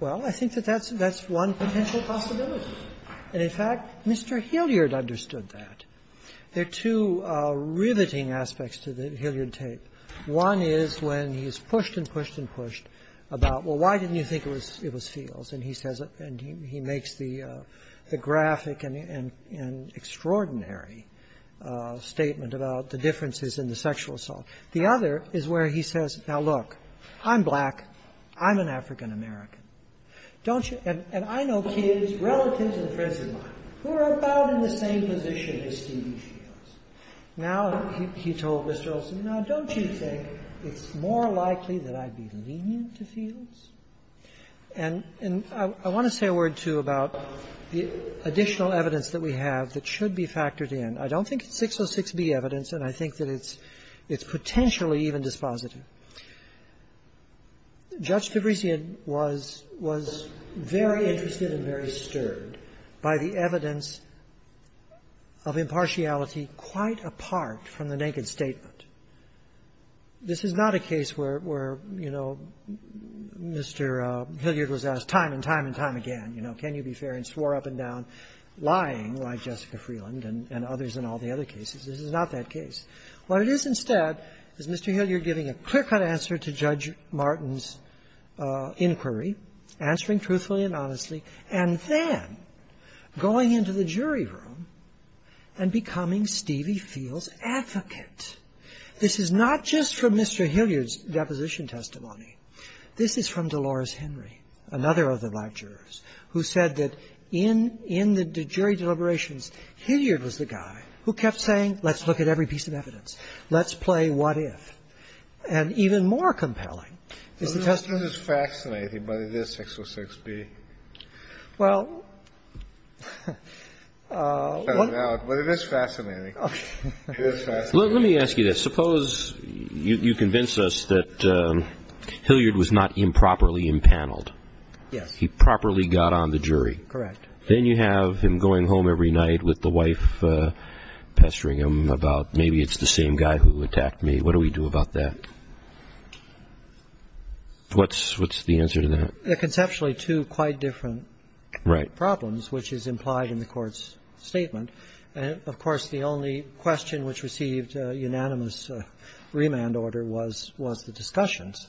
Well, I think that that's one potential possibility. And, in fact, Mr. Hilliard understood that. There are two riveting aspects to the Hilliard tape. One is when he's pushed and pushed and pushed about, well, why didn't you think it was Fields? And he says, and he makes the graphic and extraordinary statement about the differences in the sexual assault. The other is where he says, now, look, I'm black. I'm an African-American. Don't you? And I know kids, relatives and friends of mine who are about in the same position as Stevie Fields. Now, he told Mr. Olson, now, don't you think it's more likely that I'd be lenient to Fields? And I want to say a word, too, about the additional evidence that we have that should be factored in. I don't think it's 606B evidence, and I think that it's potentially even dispositive. Judge Fabrician was very interested and very stirred by the evidence of impartiality from the naked statement. This is not a case where, you know, Mr. Hilliard was asked time and time and time again, you know, can you be fair and swore up and down, lying like Jessica Freeland and others in all the other cases. This is not that case. What it is instead is Mr. Hilliard giving a clear-cut answer to Judge Martin's inquiry, answering truthfully and honestly, and then going into the jury room and becoming Stevie Fields' advocate. This is not just from Mr. Hilliard's deposition testimony. This is from Dolores Henry, another of the black jurors, who said that in the jury deliberations, Hilliard was the guy who kept saying, let's look at every piece of evidence. Let's play what if. And even more compelling is the testimony of Mr. Hilliard. Well, it is fascinating. It is fascinating. Let me ask you this. Suppose you convince us that Hilliard was not improperly impaneled. Yes. He properly got on the jury. Correct. Then you have him going home every night with the wife pestering him about maybe it's the same guy who attacked me. What do we do about that? What's the answer to that? They're conceptually two quite different problems. One is the unanimous, which is implied in the Court's statement. And, of course, the only question which received a unanimous remand order was the discussions.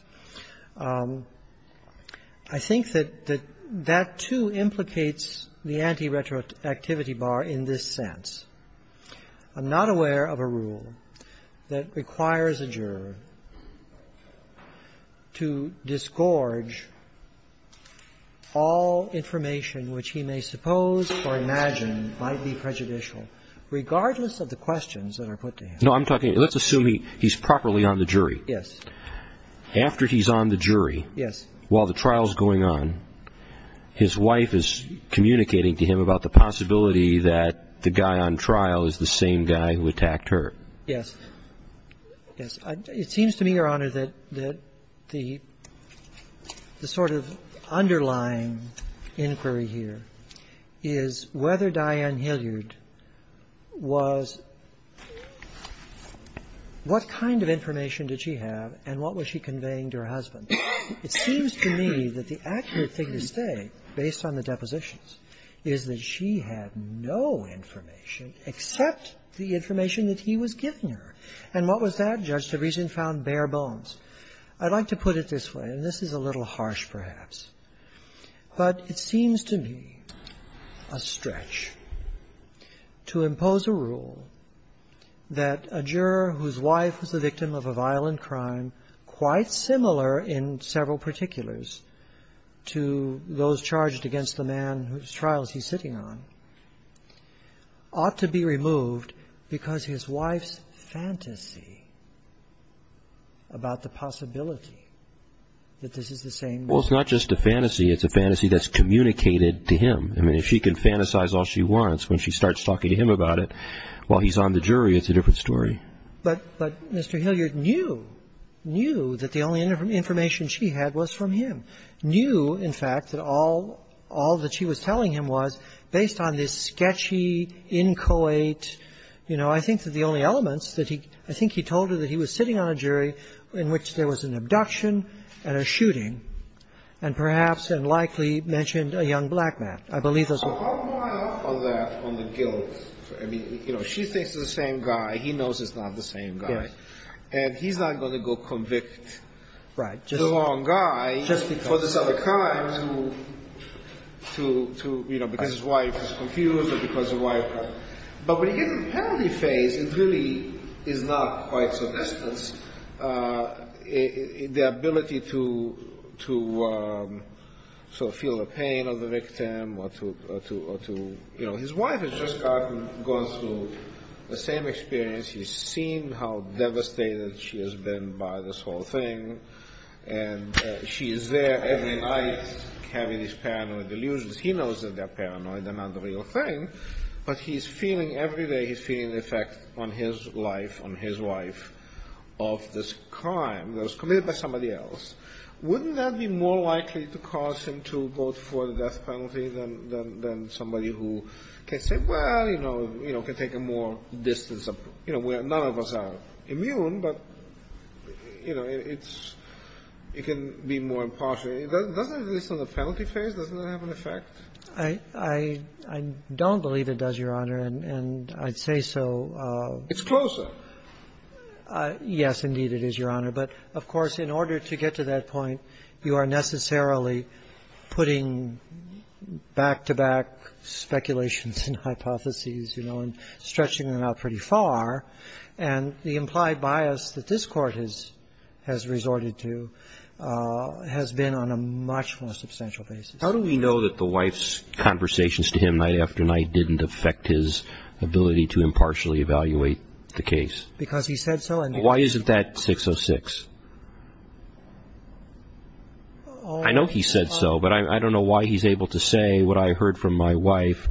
I think that that, too, implicates the anti-retroactivity bar in this sense. I'm not aware of a rule that requires a juror to disgorge all information which he may suppose or imagine might be prejudicial, regardless of the questions that are put to him. No, I'm talking to you. Let's assume he's properly on the jury. Yes. After he's on the jury, while the trial is going on, his wife is communicating to him about the possibility that the guy on trial is the same guy who attacked her. Yes. Yes. It seems to me, Your Honor, that the sort of underlying inquiry here is whether Diane Hilliard was what kind of information did she have and what was she conveying to her husband. It seems to me that the accurate thing to say, based on the depositions, is that she had no information except the information that he was giving her. And what was that? Judge Teresin found bare bones. I'd like to put it this way, and this is a little harsh, perhaps, but it seems to me a stretch to impose a rule that a juror whose wife was the victim of a violent crime, quite similar in several particulars to those charged against the man whose trials he's sitting on, ought to be removed because his wife's fantasy about the possibility that this is the same man. Well, it's not just a fantasy. It's a fantasy that's communicated to him. I mean, if she can fantasize all she wants, when she starts talking to him about it while he's on the jury, it's a different story. But Mr. Hilliard knew, knew that the only information she had was from him. Knew, in fact, that all that she was telling him was based on this sketchy, inchoate, you know, I think the only elements that he – I think he told her that he was sitting on a jury in which there was an abduction and a shooting and perhaps and likely mentioned a young black man. I believe that's what – How do I act on that, on the guilt? I mean, you know, she thinks it's the same guy. He knows it's not the same guy. And he's not going to go convict the wrong guy for this other crime to, you know, because his wife is confused or because his wife – but when you get to the penalty phase, it really is not quite so distant. And the ability to sort of feel the pain of the victim or to, you know, his wife has just gotten – gone through the same experience. She's seen how devastated she has been by this whole thing. And she is there every night having these paranoid illusions. He knows that they're paranoid. They're not the real thing. But he's feeling – every day he's feeling the effect on his life, on his wife, of this crime that was committed by somebody else. Wouldn't that be more likely to cause him to vote for the death penalty than somebody who can say, well, you know, can take a more distance – you know, none of us are immune, but, you know, it's – it can be more impartial. Doesn't this on the penalty phase, doesn't that have an effect? I don't believe it does, Your Honor. And I'd say so. It's closer. Yes, indeed it is, Your Honor. But, of course, in order to get to that point, you are necessarily putting back-to-back speculations and hypotheses, you know, and stretching them out pretty far. And the implied bias that this Court has resorted to has been on a much more substantial basis. How do we know that the wife's conversations to him night after night didn't affect his ability to impartially evaluate the case? Because he said so. Why isn't that 606? I know he said so, but I don't know why he's able to say, what I heard from my wife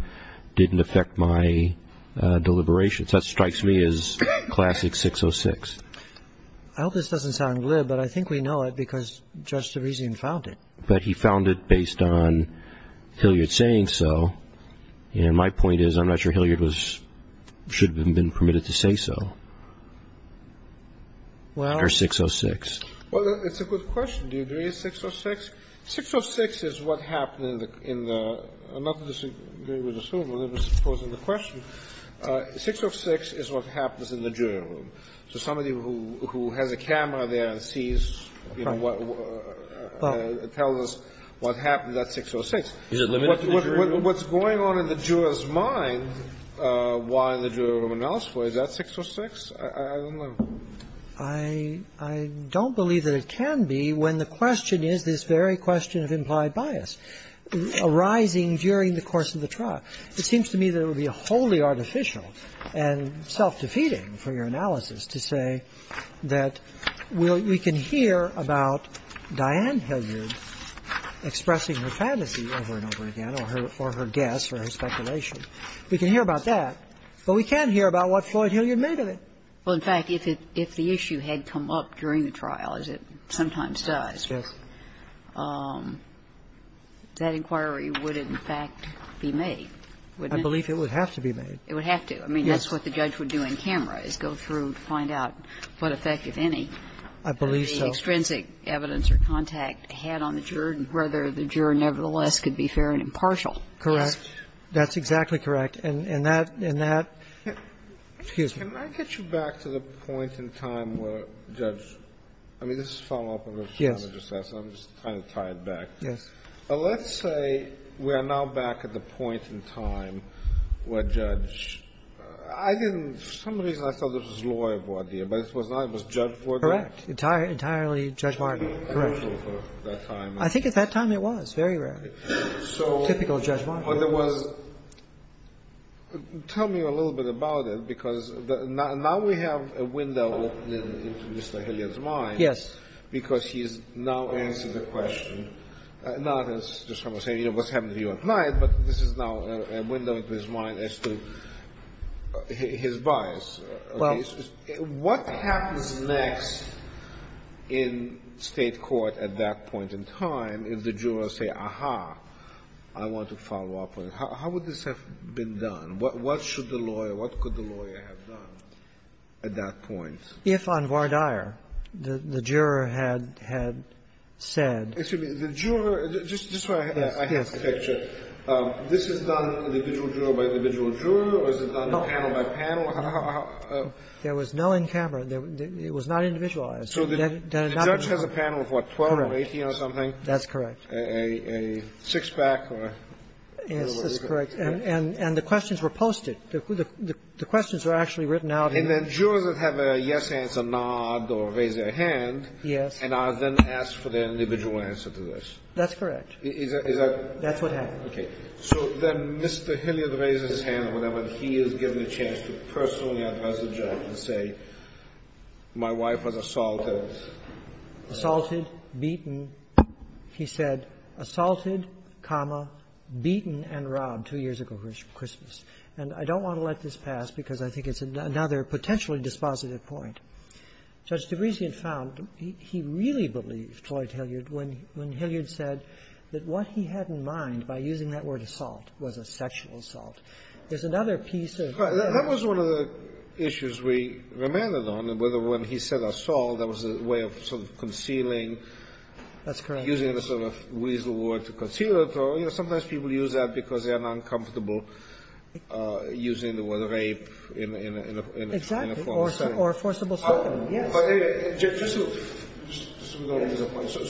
didn't affect my deliberations. That strikes me as classic 606. I hope this doesn't sound glib, but I think we know it because Judge Terezin found it. But he found it based on Hilliard saying so. And my point is, I'm not sure Hilliard should have been permitted to say so under 606. Well, it's a good question. Do you agree it's 606? 606 is what happened in the – I'm not disagreeing with the suit, I'm just posing the question. 606 is what happens in the jury room. So somebody who has a camera there and sees, you know, tells us what happened, that's 606. Is it limited to the jury room? What's going on in the juror's mind while in the jury room analysis, is that 606? I don't know. I don't believe that it can be when the question is this very question of implied bias arising during the course of the trial. It seems to me that it would be wholly artificial and self-defeating for your analysis to say that we can hear about Diane Hilliard expressing her fantasy over and over again or her guess or her speculation. We can hear about that, but we can't hear about what Floyd Hilliard made of it. Well, in fact, if the issue had come up during the trial, as it sometimes does, that inquiry would, in fact, be made, wouldn't it? I believe it would have to be made. It would have to. Yes. I mean, that's what the judge would do in camera, is go through and find out what effect, if any, the extrinsic evidence or contact had on the juror and whether the juror nevertheless could be fair and impartial. Correct. That's exactly correct. And that, and that. Excuse me. Can I get you back to the point in time where Judge – I mean, this is a follow-up of a challenge assessment. I'm just trying to tie it back. Yes. Let's say we are now back at the point in time where Judge – I didn't – for some reason, I thought this was lawyer voir dire, but it was not. It was judge voir dire. Correct. Entirely Judge Martin. Correct. At that time. I think at that time it was. Very rare. Typical Judge Martin. But there was – tell me a little bit about it, because now we have a window open into Mr. Hilliard's mind. Yes. Because he is now answering the question, not as to someone saying, you know, what's happening to you at night, but this is now a window into his mind as to his bias. Well. What happens next in State court at that point in time if the jurors say, aha, I want to follow up on it? How would this have been done? What should the lawyer – what could the lawyer have done at that point? If on voir dire, the juror had said – Excuse me. The juror – just so I have a picture. Yes. This is done individual juror by individual juror, or is it done panel by panel? There was no in camera. It was not individualized. So the judge has a panel of, what, 12 or 18 or something? That's correct. A six-pack or – Yes, that's correct. And the questions were posted. The questions were actually written out. And then jurors that have a yes answer nod or raise their hand. Yes. And are then asked for their individual answer to this. That's correct. Is that – That's what happened. Okay. So then Mr. Hilliard raises his hand or whatever, and he is given a chance to personally address the judge and say, my wife was assaulted. Assaulted, beaten. He said, assaulted, comma, beaten and robbed two years ago for Christmas. And I don't want to let this pass because I think it's another potentially dispositive point. Judge DeBresian found he really believed, Floyd Hilliard, when Hilliard said that what he had in mind by using that word assault was a sexual assault. There's another piece of – That was one of the issues we remanded on, whether when he said assault, that was a way of sort of concealing – That's correct. Using the sort of weasel word to conceal it. So, you know, sometimes people use that because they are not comfortable using the word rape in a – Exactly. Or forcible – Yes.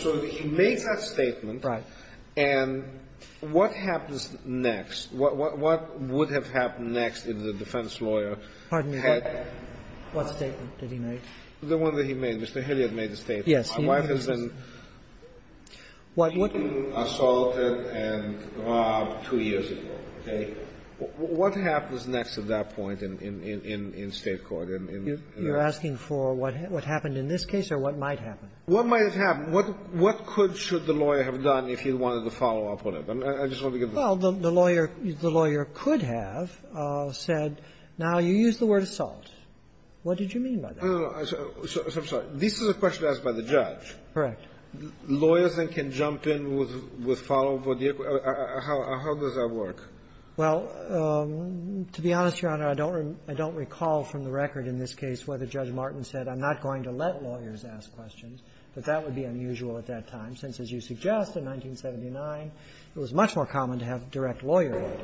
So he makes that statement. Right. And what happens next? What would have happened next if the defense lawyer had – Pardon me. What statement did he make? The one that he made. Mr. Hilliard made the statement. Yes. My wife has been beaten, assaulted, and robbed two years ago. Okay? What happens next at that point in State court? You're asking for what happened in this case or what might happen? What might have happened? What could – should the lawyer have done if he wanted to follow up on it? I just wanted to give the – Well, the lawyer could have said, now you used the word assault. What did you mean by that? I'm sorry. This is a question asked by the judge. Correct. Lawyers then can jump in with follow-up. How does that work? Well, to be honest, Your Honor, I don't recall from the record in this case whether Judge Martin said, I'm not going to let lawyers ask questions, but that would be unusual at that time since, as you suggest, in 1979, it was much more common to have direct lawyer aid.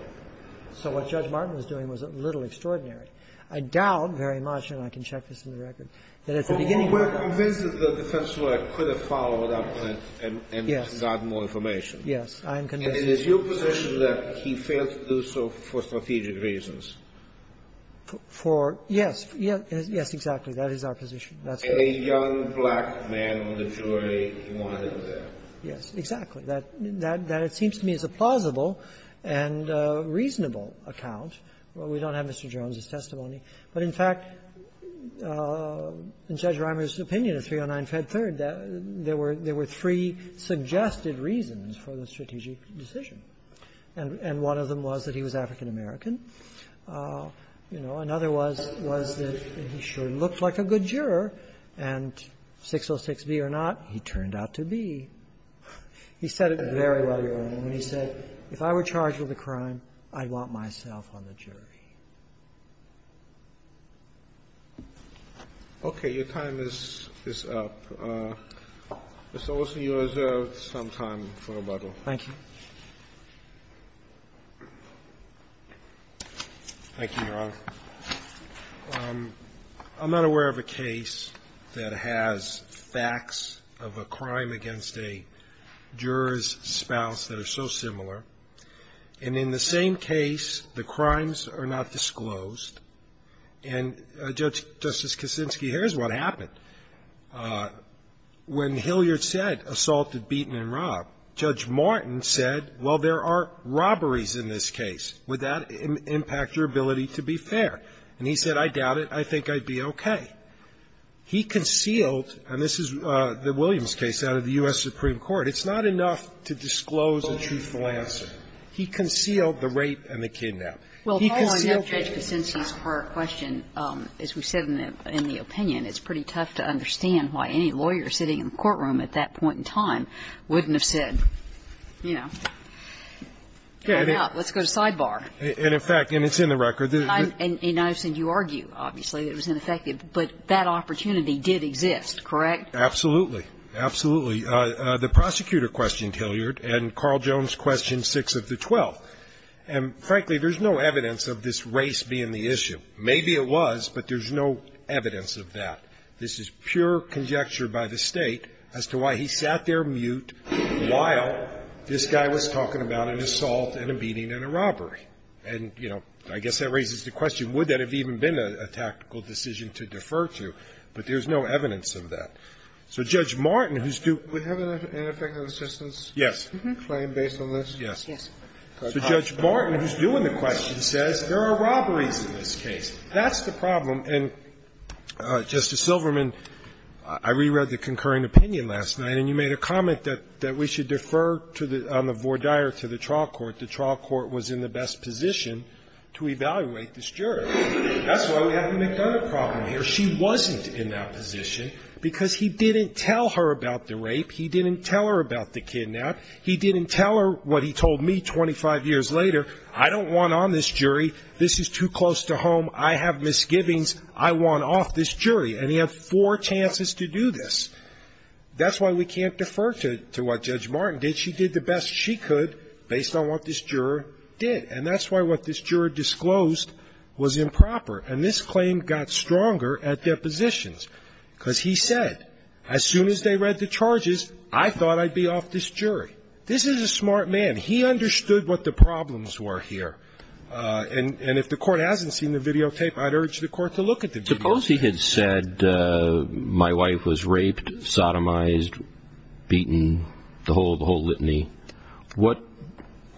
So what Judge Martin was doing was a little extraordinary. I doubt very much, and I can check this in the record, that at the beginning of the case the defense lawyer could have followed up on it and gotten more information. Yes. I am convinced of that. And it is your position that he failed to do so for strategic reasons? For – yes. Yes, exactly. That is our position. And a young black man on the jury, he wanted him there. Yes, exactly. That – that it seems to me is a plausible and reasonable account. Well, we don't have Mr. Jones's testimony. But, in fact, in Judge Reimer's opinion of 309 Fed Third, there were three suggested reasons for the strategic decision. And one of them was that he was African-American. You know, another was that he sure looked like a good juror. And 606B or not, he turned out to be. He said it very well, Your Honor, when he said, if I were charged with a crime, I'd want myself on the jury. Okay. Your time is up. Mr. Olson, you reserve some time for rebuttal. Thank you. Thank you, Your Honor. I'm not aware of a case that has facts of a crime against a juror's spouse that are so similar. And in the same case, the crimes are not disclosed. And, Justice Kaczynski, here's what happened. When Hilliard said, assaulted, beaten, and robbed, Judge Martin said, well, there are robberies in this case. Would that impact your ability to be fair? And he said, I doubt it. I think I'd be okay. He concealed, and this is the Williams case out of the U.S. Supreme Court, it's not enough to disclose a truthful answer. He concealed the rape and the kidnap. He concealed the rape. Well, following up Judge Kaczynski's question, as we said in the opinion, it's pretty tough to understand why any lawyer sitting in the courtroom at that point in time wouldn't have said, you know, let's go to sidebar. And in fact, and it's in the record. And I understand you argue, obviously, that it was ineffective. But that opportunity did exist, correct? Absolutely. Absolutely. The prosecutor questioned Hilliard, and Carl Jones questioned 6 of the 12. And frankly, there's no evidence of this race being the issue. Maybe it was, but there's no evidence of that. This is pure conjecture by the State as to why he sat there mute while this guy was talking about an assault and a beating and a robbery. And, you know, I guess that raises the question, would that have even been a tactical decision to defer to? But there's no evidence of that. So Judge Martin, who's doing the question, says there are robberies in this case. That's the problem. And, Justice Silverman, I reread the concurring opinion last night, and you made a comment that we should defer on the vordire to the trial court. The trial court was in the best position to evaluate this jury. That's why we have the McDonough problem here. But she wasn't in that position because he didn't tell her about the rape. He didn't tell her about the kidnap. He didn't tell her what he told me 25 years later. I don't want on this jury. This is too close to home. I have misgivings. I want off this jury. And he had four chances to do this. That's why we can't defer to what Judge Martin did. She did the best she could based on what this juror did. And that's why what this juror disclosed was improper. And this claim got stronger at depositions because he said, as soon as they read the charges, I thought I'd be off this jury. This is a smart man. He understood what the problems were here. And if the court hasn't seen the videotape, I'd urge the court to look at the videotape. Suppose he had said my wife was raped, sodomized, beaten, the whole litany. What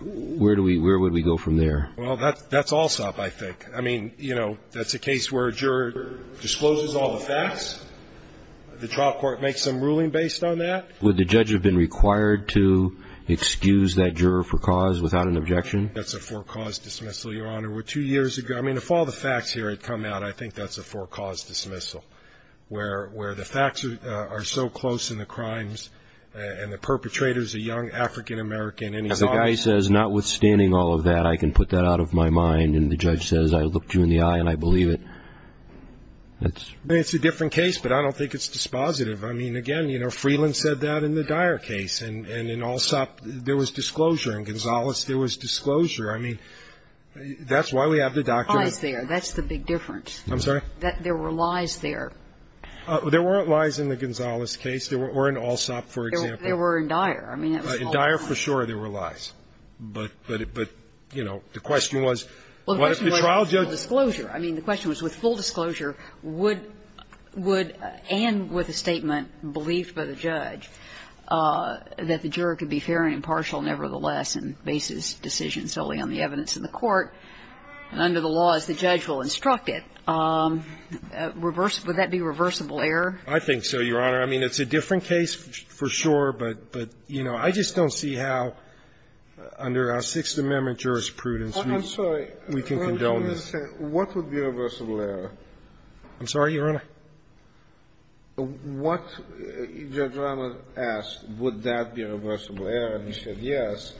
do we go from there? Well, that's all sob I think. I mean, you know, that's a case where a juror discloses all the facts. The trial court makes some ruling based on that. Would the judge have been required to excuse that juror for cause without an objection? That's a for-cause dismissal, Your Honor. Two years ago, I mean, if all the facts here had come out, I think that's a for-cause dismissal, where the facts are so close in the crimes and the perpetrator is a young African-American. And the guy says, notwithstanding all of that, I can put that out of my mind. And the judge says, I looked you in the eye and I believe it. It's a different case, but I don't think it's dispositive. I mean, again, you know, Freeland said that in the Dyer case. And in Alsop, there was disclosure. In Gonzales, there was disclosure. I mean, that's why we have the document. There were lies there. That's the big difference. I'm sorry? There were lies there. There weren't lies in the Gonzales case or in Alsop, for example. There were in Dyer. In Dyer, for sure, there were lies. But, you know, the question was, what if the trial judge was there? Well, the question was with full disclosure. I mean, the question was, with full disclosure, would and with a statement believed by the judge, that the juror could be fair and impartial nevertheless and base his decisions solely on the evidence in the court. And under the laws, the judge will instruct it. Would that be reversible error? I think so, Your Honor. I mean, it's a different case, for sure. But, you know, I just don't see how, under our Sixth Amendment jurisprudence, we can condone this. I'm sorry. What would be reversible error? I'm sorry, Your Honor? What Judge Ramos asked, would that be reversible error, and he said yes.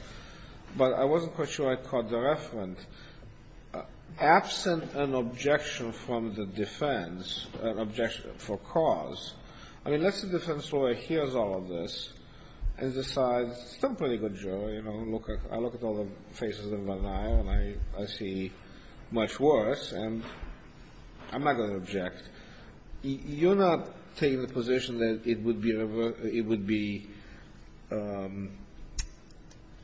But I wasn't quite sure I caught the reference. Absent an objection from the defense, an objection for cause, I mean, let's say the defense lawyer hears all of this and decides, it's a pretty good jury, you know. I look at all the faces in Van Nuyen, and I see much worse, and I'm not going to object. You're not taking the position that it would be a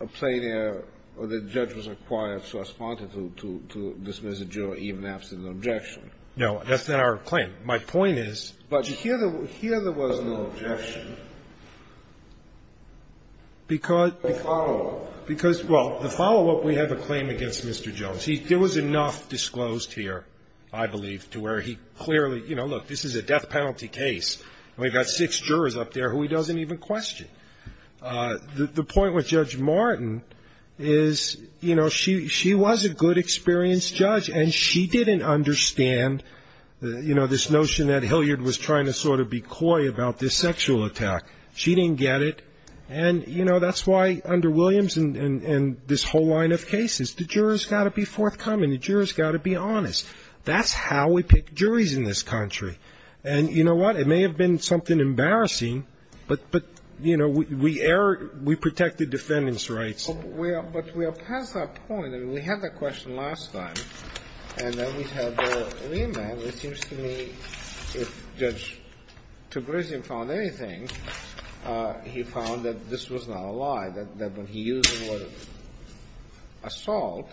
plain error or the judge was required to respond to dismiss a jury even absent an objection. No. That's not our claim. My point is. But here there was no objection. Because. The follow-up. Because, well, the follow-up, we have a claim against Mr. Jones. There was enough disclosed here, I believe, to where he clearly, you know, look, this is a death penalty case, and we've got six jurors up there who he doesn't even question. The point with Judge Martin is, you know, she was a good, experienced judge, and she didn't understand, you know, this notion that Hilliard was trying to sort of be coy about this sexual attack. She didn't get it. And, you know, that's why under Williams and this whole line of cases, the juror's got to be forthcoming, the juror's got to be honest. That's how we pick juries in this country. And you know what? It may have been something embarrassing, but, you know, we protect the defendant's rights. But we are past that point. I mean, we had that question last time, and then we had the remand. It seems to me if Judge Tegresian found anything, he found that this was not a lie, that when he used the word assault,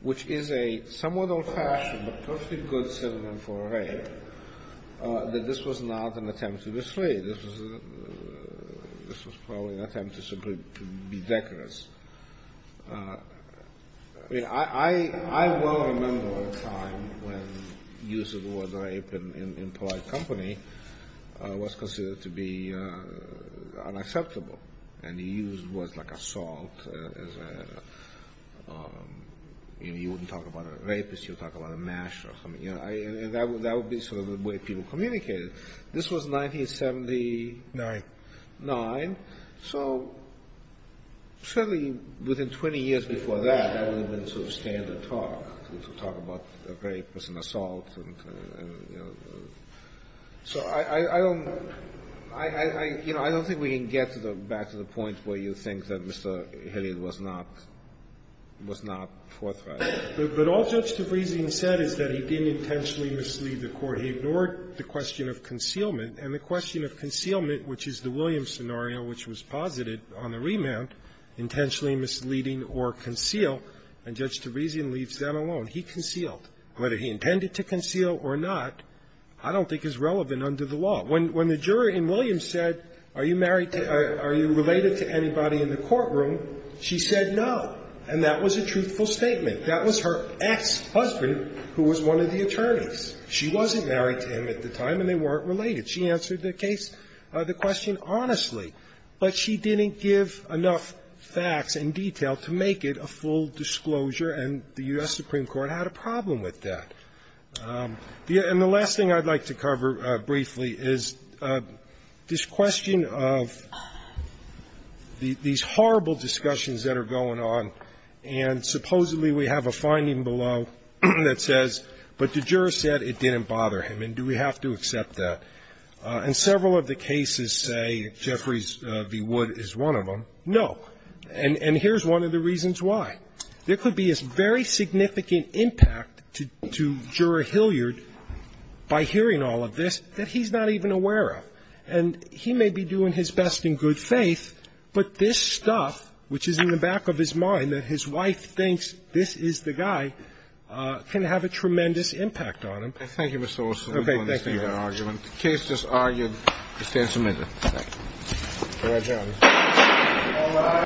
which is a somewhat old-fashioned, but perfectly good synonym for rape, that this was not an attempt to dissuade. This was probably an attempt to be decorous. I mean, I well remember a time when the use of the word rape in polite company was considered to be unacceptable, and he used words like assault as a, you know, you wouldn't talk about a rapist, you'd talk about a masher. I mean, that would be sort of the way people communicated. This was 1979. So certainly within 20 years before that, that would have been sort of standard talk, to talk about rape as an assault and, you know. So I don't think we can get back to the point where you think that Mr. Hilliard was not forthright. But all Judge Tegresian said is that he didn't intentionally mislead the Court. He ignored the question of concealment. And the question of concealment, which is the Williams scenario which was posited on the remand, intentionally misleading or conceal, and Judge Tegresian leaves that alone. He concealed. Whether he intended to conceal or not, I don't think is relevant under the law. When the jury in Williams said, are you related to anybody in the courtroom, she said no. And that was a truthful statement. That was her ex-husband, who was one of the attorneys. She wasn't married to him at the time, and they weren't related. She answered the case, the question honestly. But she didn't give enough facts and detail to make it a full disclosure, and the U.S. Supreme Court had a problem with that. And the last thing I'd like to cover briefly is this question of these horrible discussions that are going on, and supposedly we have a finding below that says, but the juror said it didn't bother him, and do we have to accept that? And several of the cases say Jeffrey V. Wood is one of them. No. And here's one of the reasons why. There could be a very significant impact to Juror Hilliard by hearing all of this that he's not even aware of, and he may be doing his best in good faith, but this stuff, which is in the back of his mind, that his wife thinks this is the guy, can have a tremendous impact on him. Thank you, Mr. Wilson. Okay, thank you. We understand your argument. The case is argued. We stand submitted. Thank you. All right, gentlemen. All rise.